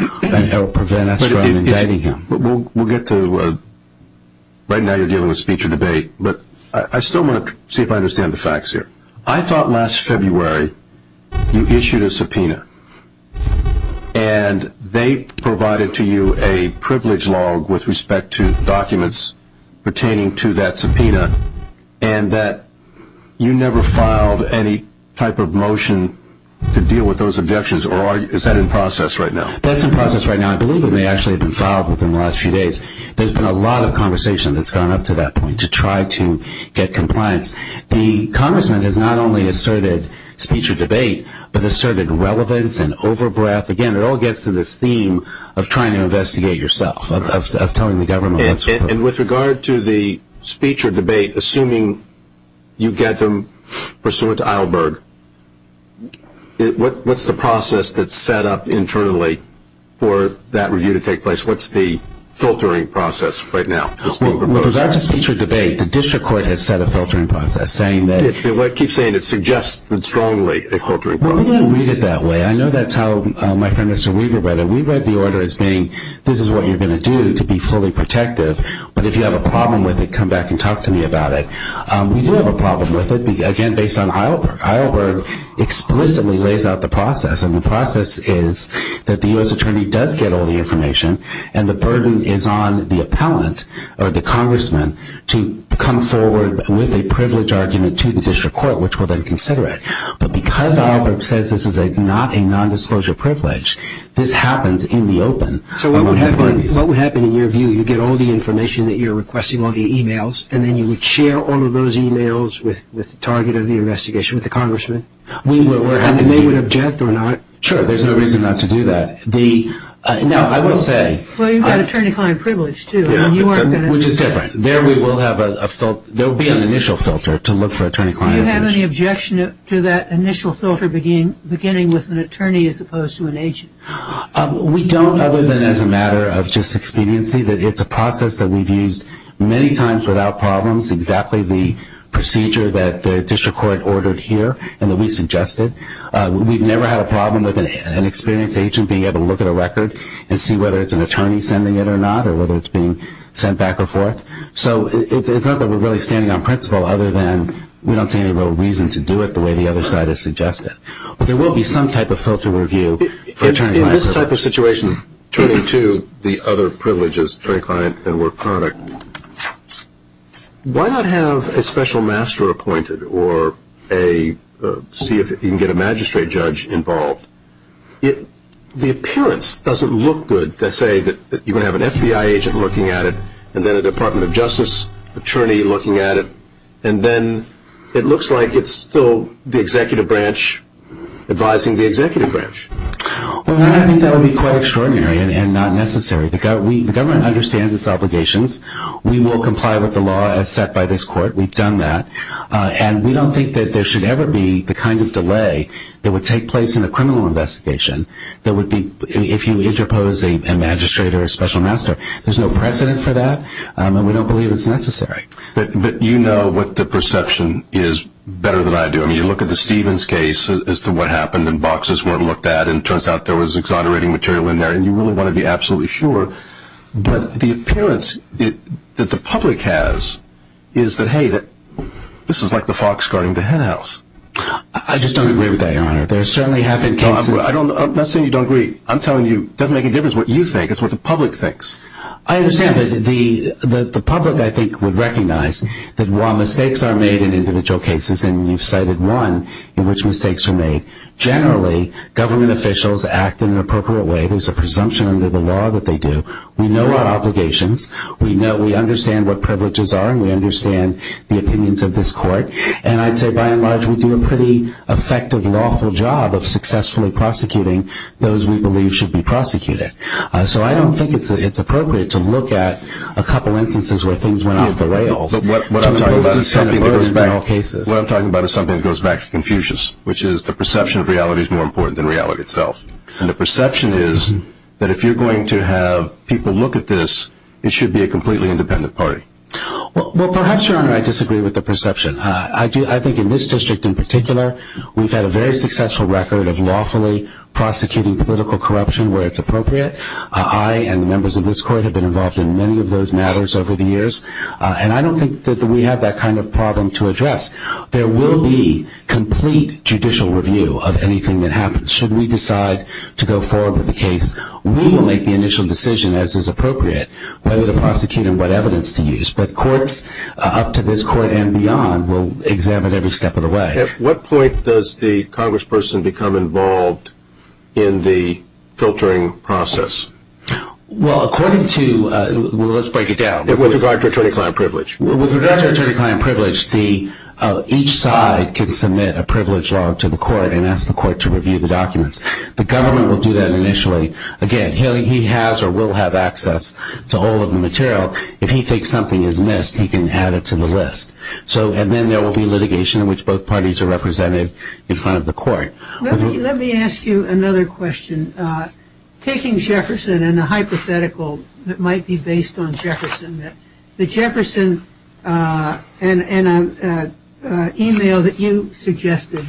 or prevent us from indicting him. We'll get to that. Right now you're giving a speech or debate. But I still want to see if I understand the facts here. I thought last February you issued a subpoena. And they provided to you a privilege log with respect to documents pertaining to that subpoena and that you never filed any type of motion to deal with those objections. Or is that in process right now? That's in process right now. I believe it may actually have been filed within the last few days. There's been a lot of conversation that's gone up to that point to try to get compliance. The congressman has not only asserted speech or debate, but asserted relevance and over-breath. Again, it all gets to this theme of trying to investigate yourself, of telling the government what's wrong. And with regard to the speech or debate, assuming you get them pursuant to Eilberg, what's the process that's set up internally for that review to take place? What's the filtering process right now? With regard to speech or debate, the district court has set a filtering process saying that It keeps saying it suggests strongly a filtering process. We don't read it that way. I know that's how my friend Mr. Weaver read it. We read the order as being this is what you're going to do to be fully protective. But if you have a problem with it, come back and talk to me about it. We do have a problem with it, again, based on Eilberg. Eilberg explicitly lays out the process. And the process is that the U.S. attorney does get all the information, and the burden is on the appellant or the congressman to come forward with a privilege argument to the district court, which will then consider it. But because Eilberg says this is not a nondisclosure privilege, this happens in the open. So what would happen in your view? You get all the information that you're requesting, all the e-mails, and then you would share all of those e-mails with the target of the investigation, with the congressman? And they would object or not? Sure. There's no reason not to do that. Now, I will say – Well, you've got attorney-client privilege, too. Which is different. There will be an initial filter to look for attorney-client privilege. Do you have any objection to that initial filter beginning with an attorney as opposed to an agent? We don't, other than as a matter of just expediency, that it's a process that we've used many times without problems, exactly the procedure that the district court ordered here and that we suggested. We've never had a problem with an experienced agent being able to look at a record and see whether it's an attorney sending it or not or whether it's being sent back or forth. So it's not that we're really standing on principle, other than we don't see any real reason to do it the way the other side has suggested. But there will be some type of filter review for attorney-client privilege. In this type of situation, turning to the other privileges, attorney-client and work-product, why not have a special master appointed or see if you can get a magistrate judge involved? The appearance doesn't look good to say that you're going to have an FBI agent looking at it and then a Department of Justice attorney looking at it, and then it looks like it's still the executive branch advising the executive branch. I think that would be quite extraordinary and not necessary. The government understands its obligations. We will comply with the law as set by this court. We've done that. And we don't think that there should ever be the kind of delay that would take place in a criminal investigation that would be if you interpose a magistrate or a special master. There's no precedent for that, and we don't believe it's necessary. But you know what the perception is better than I do. I mean, you look at the Stevens case as to what happened and boxes weren't looked at, and it turns out there was exonerating material in there, and you really want to be absolutely sure. But the appearance that the public has is that, hey, this is like the fox guarding the hen house. I just don't agree with that, Your Honor. There certainly have been cases. I'm not saying you don't agree. I'm telling you it doesn't make a difference what you think. It's what the public thinks. I understand. But the public, I think, would recognize that while mistakes are made in individual cases, and you've cited one in which mistakes are made, generally government officials act in an appropriate way. There's a presumption under the law that they do. We know our obligations. We understand what privileges are, and we understand the opinions of this court. And I'd say by and large we do a pretty effective lawful job of successfully prosecuting those we believe should be prosecuted. So I don't think it's appropriate to look at a couple instances where things went off the rails. But what I'm talking about is something that goes back to Confucius, which is the perception of reality is more important than reality itself. And the perception is that if you're going to have people look at this, it should be a completely independent party. Well, perhaps, Your Honor, I disagree with the perception. I think in this district in particular, we've had a very successful record of lawfully prosecuting political corruption where it's appropriate. I and the members of this court have been involved in many of those matters over the years, and I don't think that we have that kind of problem to address. There will be complete judicial review of anything that happens. Should we decide to go forward with the case, we will make the initial decision, as is appropriate, whether to prosecute and what evidence to use. But courts up to this court and beyond will examine every step of the way. At what point does the congressperson become involved in the filtering process? Well, according to – well, let's break it down. With regard to attorney-client privilege. With regard to attorney-client privilege, each side can submit a privilege log to the court and ask the court to review the documents. The government will do that initially. Again, he has or will have access to all of the material. If he thinks something is missed, he can add it to the list. And then there will be litigation in which both parties are represented in front of the court. Let me ask you another question. Taking Jefferson and a hypothetical that might be based on Jefferson, the Jefferson – and an email that you suggested,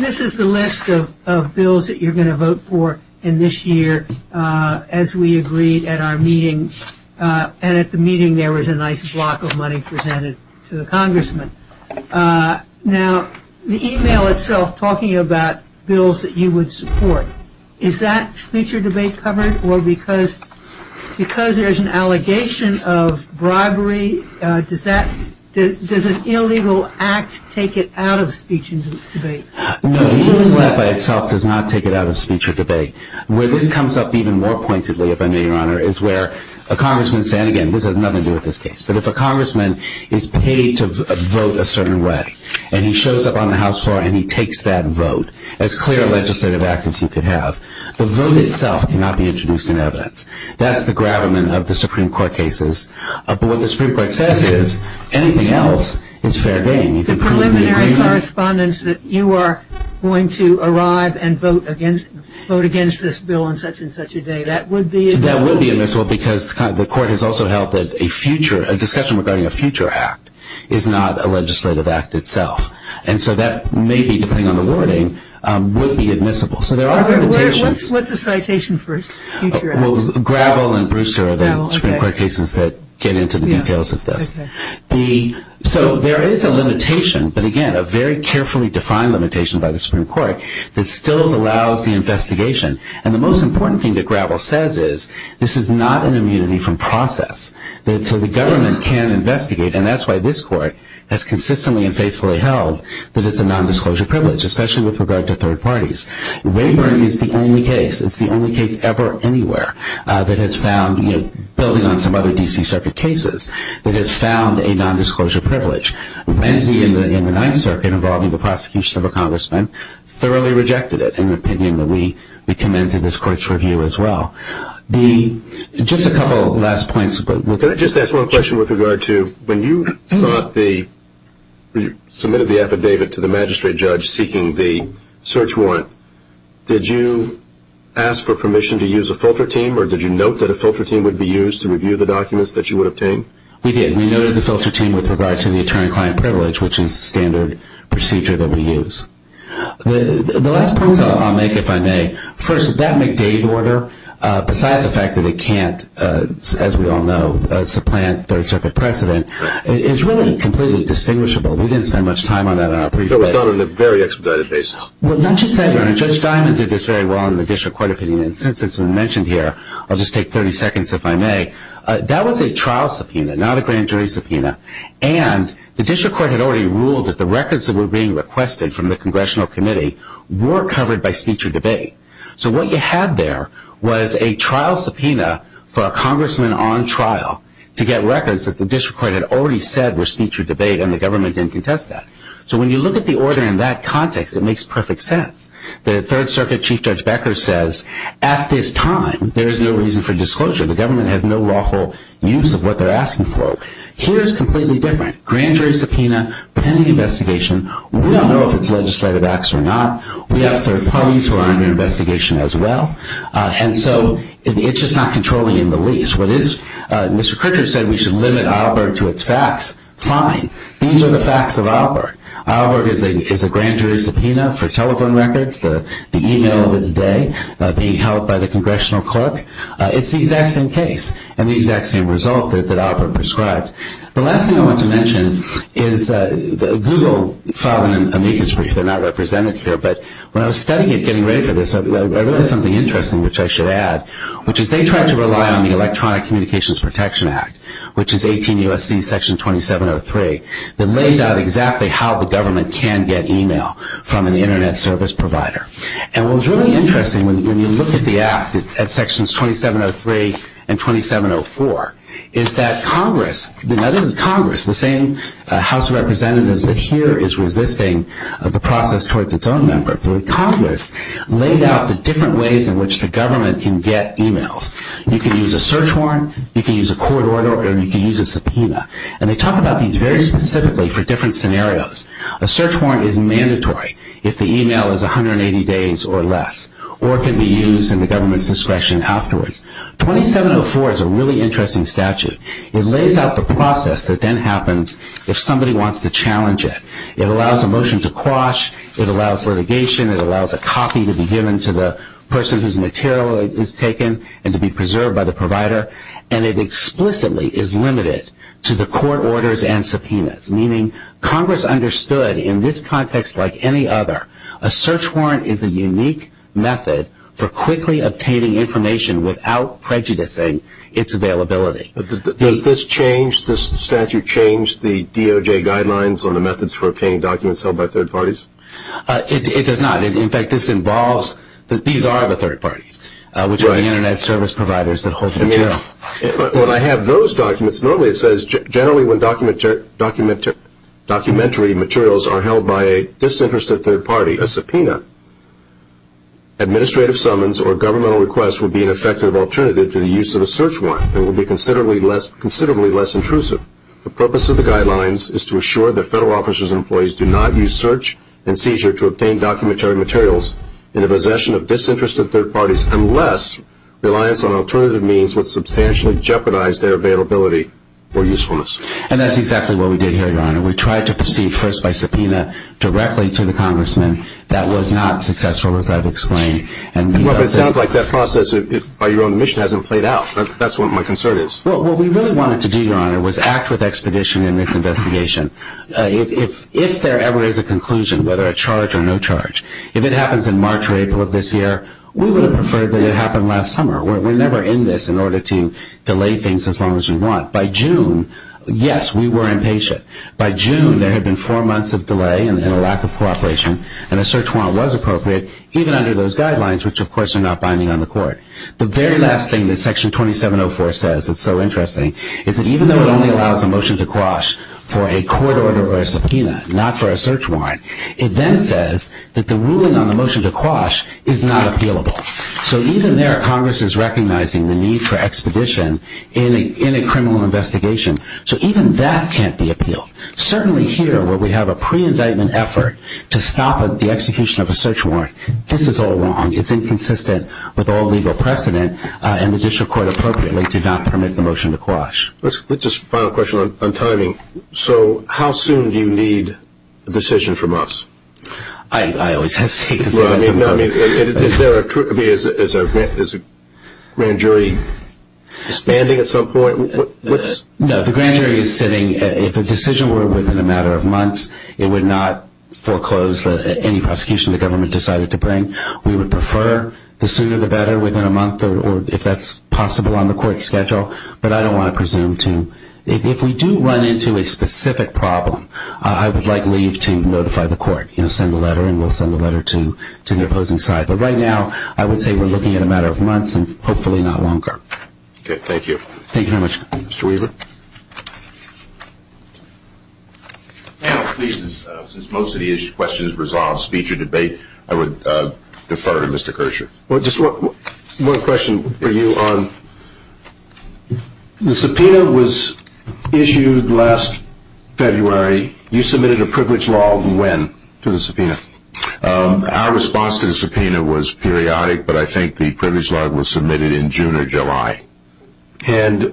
this is the list of bills that you're going to vote for in this year as we agreed at our meeting. And at the meeting there was a nice block of money presented to the congressman. Now, the email itself talking about bills that you would support, is that speech or debate covered or because there's an allegation of bribery, does an illegal act take it out of speech and debate? No, the email by itself does not take it out of speech or debate. Where this comes up even more pointedly, if I may, Your Honor, is where a congressman – and again, this has nothing to do with this case – but if a congressman is paid to vote a certain way and he shows up on the House floor and he takes that vote, as clear a legislative act as you could have, the vote itself cannot be introduced in evidence. That's the gravamen of the Supreme Court cases. But what the Supreme Court says is anything else is fair game. The preliminary correspondence that you are going to arrive and vote against this bill on such and such a day, that would be admissible? That would be admissible because the court has also held that a future – a discussion regarding a future act is not a legislative act itself. And so that may be, depending on the wording, would be admissible. So there are limitations. What's the citation for a future act? Well, Gravel and Brewster are the Supreme Court cases that get into the details of this. So there is a limitation, but again, a very carefully defined limitation by the Supreme Court that still allows the investigation. And the most important thing that Gravel says is this is not an immunity from process. So the government can investigate, and that's why this court has consistently and faithfully held that it's a nondisclosure privilege, especially with regard to third parties. Rayburn is the only case – it's the only case ever, anywhere – that has found, building on some other D.C. Circuit cases, that has found a nondisclosure privilege. Renzi in the Ninth Circuit, involving the prosecution of a congressman, thoroughly rejected it in the opinion that we commend to this court's review as well. Just a couple last points. Can I just ask one question with regard to when you submitted the affidavit to the magistrate judge seeking the search warrant, did you ask for permission to use a filter team or did you note that a filter team would be used to review the documents that you would obtain? We did. We noted the filter team with regard to the attorney-client privilege, which is the standard procedure that we use. The last points I'll make, if I may. First, that McDade order, besides the fact that it can't, as we all know, supplant third circuit precedent, is really completely distinguishable. We didn't spend much time on that in our brief. It was done on a very expedited basis. Well, not just that, Your Honor. Judge Diamond did this very well in the district court opinion, and since it's been mentioned here, I'll just take 30 seconds, if I may. That was a trial subpoena, not a grand jury subpoena, and the district court had already ruled that the records that were being requested from the congressional committee were covered by speech or debate. So what you had there was a trial subpoena for a congressman on trial to get records that the district court had already said were speech or debate and the government didn't contest that. So when you look at the order in that context, it makes perfect sense. The third circuit Chief Judge Becker says, at this time there is no reason for disclosure. The government has no lawful use of what they're asking for. Here it's completely different. Grand jury subpoena, pending investigation. We don't know if it's legislative acts or not. We have third parties who are under investigation as well, and so it's just not controlling in the least. What is, Mr. Crutcher said we should limit Albert to its facts. Fine. These are the facts of Albert. Albert is a grand jury subpoena for telephone records, the e-mail of his day being held by the congressional clerk. It's the exact same case and the exact same result that Albert prescribed. The last thing I want to mention is Google filed an amicus brief. They're not represented here, but when I was studying it, getting ready for this, I noticed something interesting which I should add, which is they tried to rely on the Electronic Communications Protection Act, which is 18 U.S.C. Section 2703, that lays out exactly how the government can get e-mail from an Internet service provider. And what was really interesting when you look at the Act at Sections 2703 and 2704 is that Congress, now this is Congress, the same House of Representatives that here is resisting the process towards its own member, but Congress laid out the different ways in which the government can get e-mails. You can use a search warrant, you can use a court order, or you can use a subpoena. And they talk about these very specifically for different scenarios. A search warrant is mandatory if the e-mail is 180 days or less or can be used in the government's discretion afterwards. 2704 is a really interesting statute. It lays out the process that then happens if somebody wants to challenge it. It allows a motion to quash, it allows litigation, it allows a copy to be given to the person whose material is taken and to be preserved by the provider, and it explicitly is limited to the court orders and subpoenas, meaning Congress understood in this context like any other, a search warrant is a unique method for quickly obtaining information without prejudicing its availability. Does this change, this statute change the DOJ guidelines on the methods for obtaining documents held by third parties? It does not. In fact, this involves that these are the third parties, which are the Internet service providers that hold the material. When I have those documents, normally it says, generally when documentary materials are held by a disinterested third party, a subpoena, administrative summons, or governmental request would be an effective alternative to the use of a search warrant and would be considerably less intrusive. The purpose of the guidelines is to assure that federal officers and employees do not use search and seizure to obtain documentary materials in the possession of disinterested third parties unless reliance on alternative means would substantially jeopardize their availability or usefulness. And that's exactly what we did here, Your Honor. We tried to proceed first by subpoena directly to the congressman. That was not successful, as I've explained. Well, but it sounds like that process by your own admission hasn't played out. That's what my concern is. Well, what we really wanted to do, Your Honor, was act with expedition in this investigation. If there ever is a conclusion, whether a charge or no charge, if it happens in March or April of this year, we would have preferred that it happened last summer. We're never in this in order to delay things as long as we want. By June, yes, we were impatient. By June, there had been four months of delay and a lack of cooperation, and a search warrant was appropriate, even under those guidelines, which of course are not binding on the court. The very last thing that Section 2704 says that's so interesting is that even though it only allows a motion to quash for a court order or a subpoena, not for a search warrant, it then says that the ruling on the motion to quash is not appealable. So even there, Congress is recognizing the need for expedition in a criminal investigation. So even that can't be appealed. Certainly here, where we have a pre-indictment effort to stop the execution of a search warrant, this is all wrong. It's inconsistent with all legal precedent, and the district court appropriately did not permit the motion to quash. Just a final question on timing. So how soon do you need a decision from us? I always hesitate to say that. Is there a grand jury disbanding at some point? No, the grand jury is sitting. If a decision were within a matter of months, it would not foreclose any prosecution the government decided to bring. We would prefer the sooner the better, within a month, or if that's possible on the court's schedule. But I don't want to presume to. If we do run into a specific problem, I would like leave to notify the court, send a letter, and we'll send a letter to the opposing side. But right now, I would say we're looking at a matter of months and hopefully not longer. Okay, thank you. Thank you very much. Mr. Weaver. Panel, please, since most of the questions have resolved, speech or debate, I would defer to Mr. Kershaw. Just one question for you. The subpoena was issued last February. You submitted a privilege law when to the subpoena. Our response to the subpoena was periodic, but I think the privilege law was submitted in June or July. And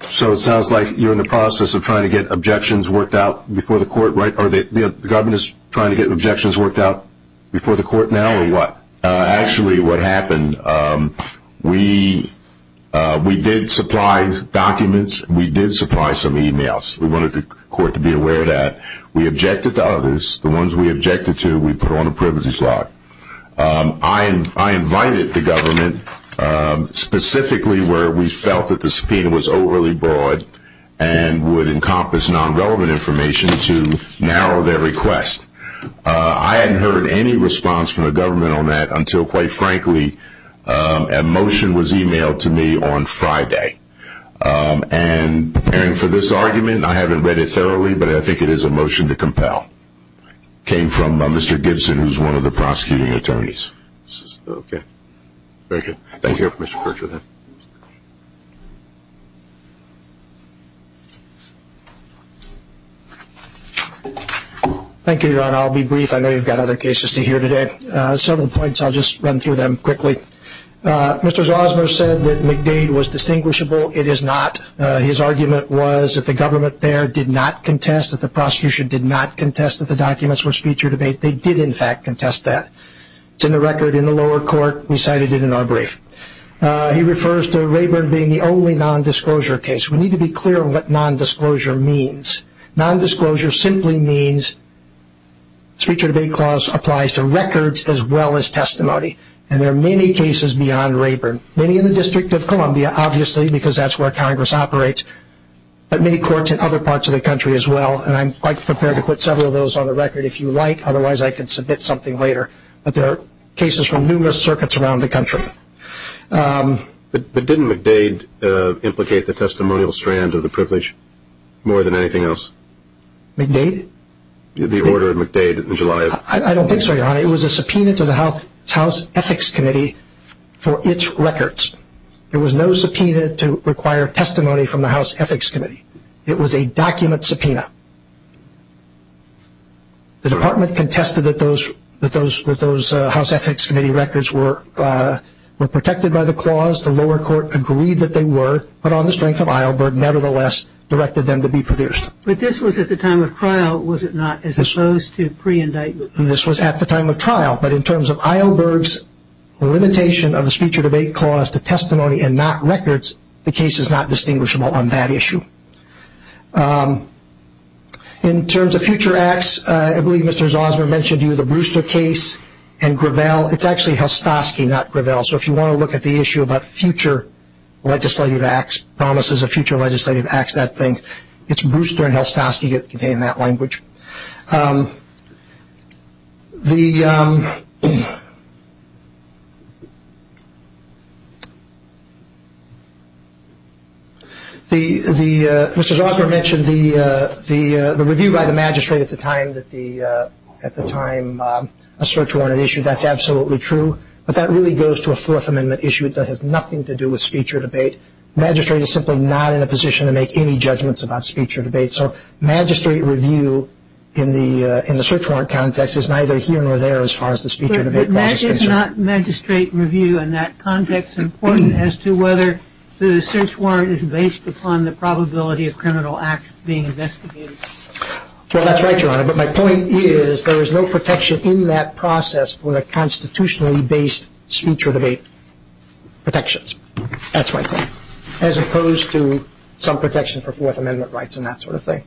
so it sounds like you're in the process of trying to get objections worked out before the court, right? Are the governors trying to get objections worked out before the court now, or what? Actually, what happened, we did supply documents. We did supply some e-mails. We wanted the court to be aware of that. We objected to others. The ones we objected to, we put on a privilege law. I invited the government specifically where we felt that the subpoena was overly broad and would encompass non-relevant information to narrow their request. I hadn't heard any response from the government on that until, quite frankly, a motion was e-mailed to me on Friday. And for this argument, I haven't read it thoroughly, but I think it is a motion to compel. It came from Mr. Gibson, who is one of the prosecuting attorneys. Okay. Very good. Thank you, Mr. Percival. Thank you, Your Honor. I'll be brief. I know you've got other cases to hear today. Several points, I'll just run through them quickly. Mr. Zosmer said that McDade was distinguishable. It is not. His argument was that the government there did not contest, that the prosecution did not contest that the documents were speech or debate. They did, in fact, contest that. It's in the record in the lower court. We cited it in our brief. He refers to Rayburn being the only nondisclosure case. We need to be clear on what nondisclosure means. Nondisclosure simply means speech or debate clause applies to records as well as testimony. And there are many cases beyond Rayburn, many in the District of Columbia, obviously, because that's where Congress operates, but many courts in other parts of the country as well. And I'm quite prepared to put several of those on the record if you like. Otherwise, I can submit something later. But there are cases from numerous circuits around the country. But didn't McDade implicate the testimonial strand of the privilege more than anything else? McDade? The order of McDade in July. I don't think so, Your Honor. It was a subpoena to the House Ethics Committee for its records. There was no subpoena to require testimony from the House Ethics Committee. It was a document subpoena. The Department contested that those House Ethics Committee records were protected by the clause. The lower court agreed that they were, but on the strength of Eilberg, nevertheless, directed them to be produced. But this was at the time of trial, was it not, as opposed to pre-indictment? This was at the time of trial. But in terms of Eilberg's limitation of the speech or debate clause to testimony and not records, the case is not distinguishable on that issue. In terms of future acts, I believe Mr. Zausman mentioned to you the Brewster case and Gravel. It's actually Helstosky, not Gravel. So if you want to look at the issue about future legislative acts, promises of future legislative acts, that thing, it's Brewster and Helstosky that contain that language. Mr. Zausman mentioned the review by the magistrate at the time a search warrant is issued. That's absolutely true. But that really goes to a Fourth Amendment issue that has nothing to do with speech or debate. The magistrate is simply not in a position to make any judgments about speech or debate. So magistrate review in the search warrant context is neither here nor there as far as the speech or debate clause is concerned. But that is not magistrate review in that context important as to whether the search warrant is based upon the probability of criminal acts being investigated. Well, that's right, Your Honor. But my point is there is no protection in that process for the constitutionally based speech or debate protections. That's my point, as opposed to some protection for Fourth Amendment rights and that sort of thing.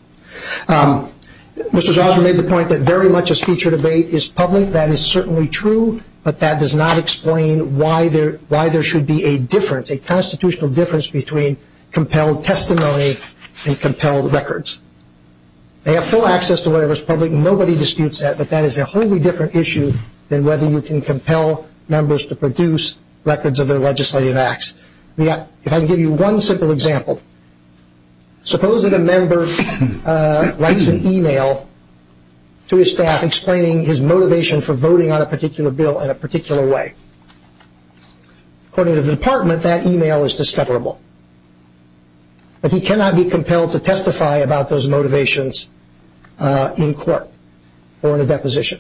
Mr. Zausman made the point that very much of speech or debate is public. That is certainly true, but that does not explain why there should be a difference, a constitutional difference between compelled testimony and compelled records. They have full access to whatever is public. But that is a wholly different issue than whether you can compel members to produce records of their legislative acts. If I can give you one simple example, suppose that a member writes an e-mail to his staff explaining his motivation for voting on a particular bill in a particular way. According to the department, that e-mail is discoverable. But he cannot be compelled to testify about those motivations in court or in a deposition.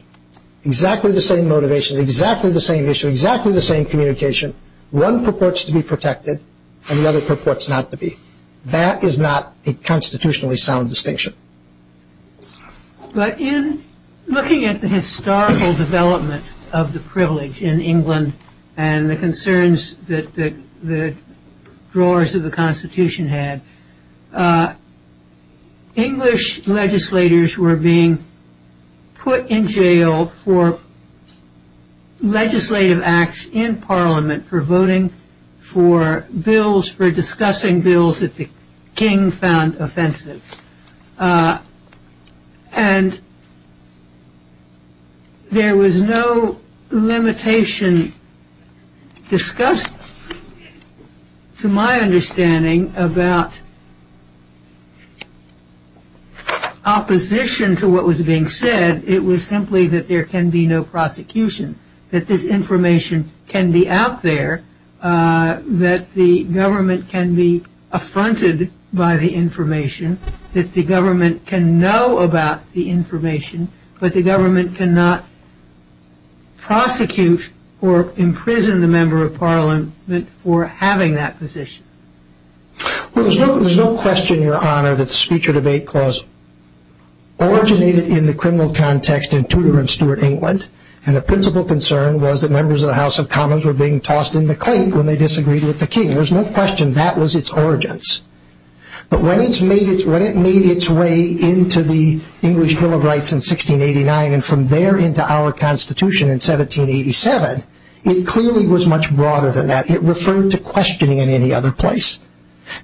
Exactly the same motivation, exactly the same issue, exactly the same communication. One purports to be protected and the other purports not to be. That is not a constitutionally sound distinction. But in looking at the historical development of the privilege in England and the concerns that the drawers of the Constitution had, English legislators were being put in jail for legislative acts in Parliament for voting for bills, for discussing bills that the king found offensive. And there was no limitation discussed, to my understanding, about opposition to what was being said. It was simply that there can be no prosecution, that this information can be out there, that the government can be affronted by the information, that the government can know about the information, but the government cannot prosecute or imprison the Member of Parliament for having that position. Well, there's no question, Your Honor, that the Speech or Debate Clause originated in the criminal context in Tudor and Stuart England. And the principal concern was that members of the House of Commons were being tossed in the clink when they disagreed with the king. There's no question that was its origins. But when it made its way into the English Bill of Rights in 1689 and from there into our Constitution in 1787, it clearly was much broader than that. It referred to questioning in any other place.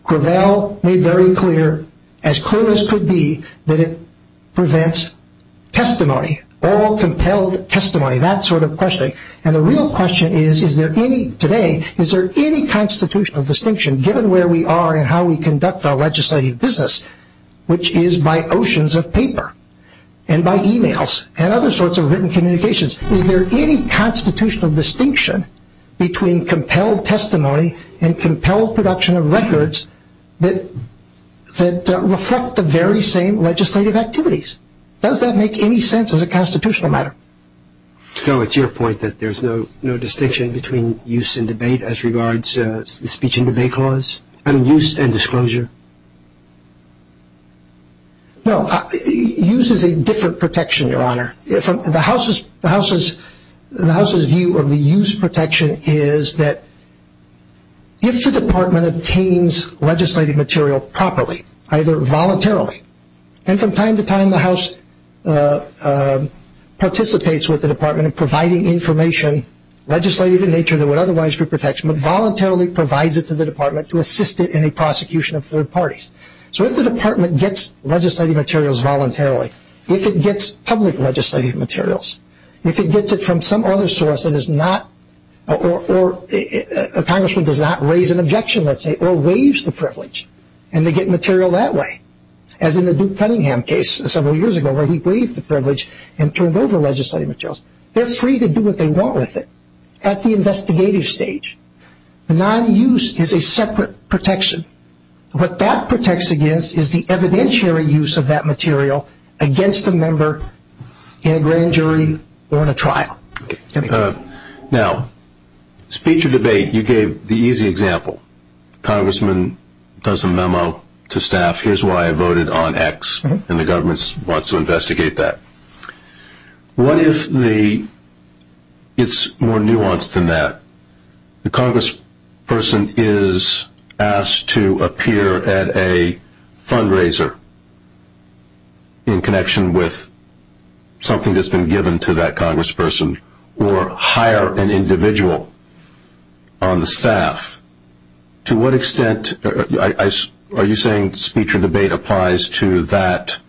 Cravel made very clear, as clear as could be, that it prevents testimony, all compelled testimony, that sort of questioning. And the real question is, today, is there any constitutional distinction, given where we are and how we conduct our legislative business, which is by oceans of paper and by e-mails and other sorts of written communications, is there any constitutional distinction between compelled testimony and compelled production of records that reflect the very same legislative activities? Does that make any sense as a constitutional matter? So it's your point that there's no distinction between use and debate as regards the Speech and Debate Clause? I mean, use and disclosure? No, use is a different protection, Your Honor. The House's view of the use protection is that if the Department obtains legislative material properly, either voluntarily, and from time to time the House participates with the Department in providing information, legislative in nature that would otherwise be protection, but voluntarily provides it to the Department to assist it in a prosecution of third parties. So if the Department gets legislative materials voluntarily, if it gets public legislative materials, if it gets it from some other source that is not, or a congressman does not raise an objection, let's say, or waives the privilege, and they get material that way, as in the Duke Cunningham case several years ago where he waived the privilege and turned over legislative materials, they're free to do what they want with it at the investigative stage. Non-use is a separate protection. What that protects against is the evidentiary use of that material against a member in a grand jury or in a trial. Now, speech or debate, you gave the easy example. Congressman does a memo to staff, here's why I voted on X, and the government wants to investigate that. What if it's more nuanced than that? The congressperson is asked to appear at a fundraiser in connection with something that's been given to that congressperson or hire an individual on the staff. To what extent are you saying speech or debate applies to that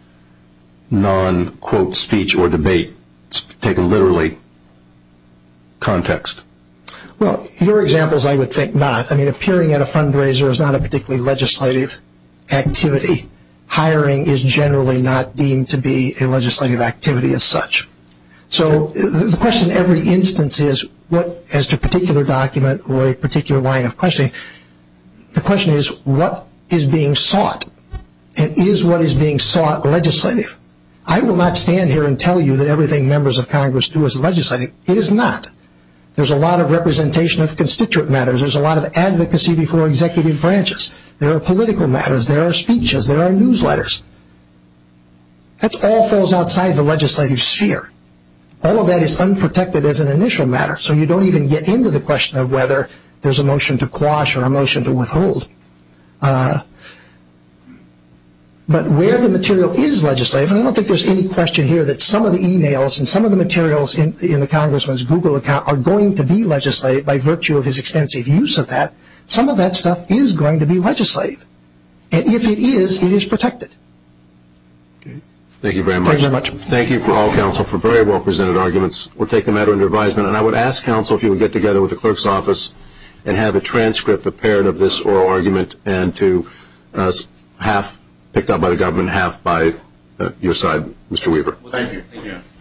non-quote speech or debate, taking literally context? Well, your examples I would think not. I mean, appearing at a fundraiser is not a particularly legislative activity. Hiring is generally not deemed to be a legislative activity as such. So the question in every instance is, as to a particular document or a particular line of questioning, the question is, what is being sought? And is what is being sought legislative? I will not stand here and tell you that everything members of congress do is legislative. It is not. There's a lot of representation of constituent matters. There's a lot of advocacy before executive branches. There are political matters. There are speeches. There are newsletters. That all falls outside the legislative sphere. All of that is unprotected as an initial matter. So you don't even get into the question of whether there's a motion to quash or a motion to withhold. But where the material is legislative, and I don't think there's any question here that some of the emails and some of the materials in the congressman's Google account are going to be legislative by virtue of his extensive use of that. Some of that stuff is going to be legislative. And if it is, it is protected. Thank you very much. Thank you for all counsel for very well presented arguments. We'll take the matter under advisement. And I would ask counsel if you would get together with the clerk's office and have a transcript prepared of this oral argument and to half picked up by the government, half by your side, Mr. Weaver. Thank you.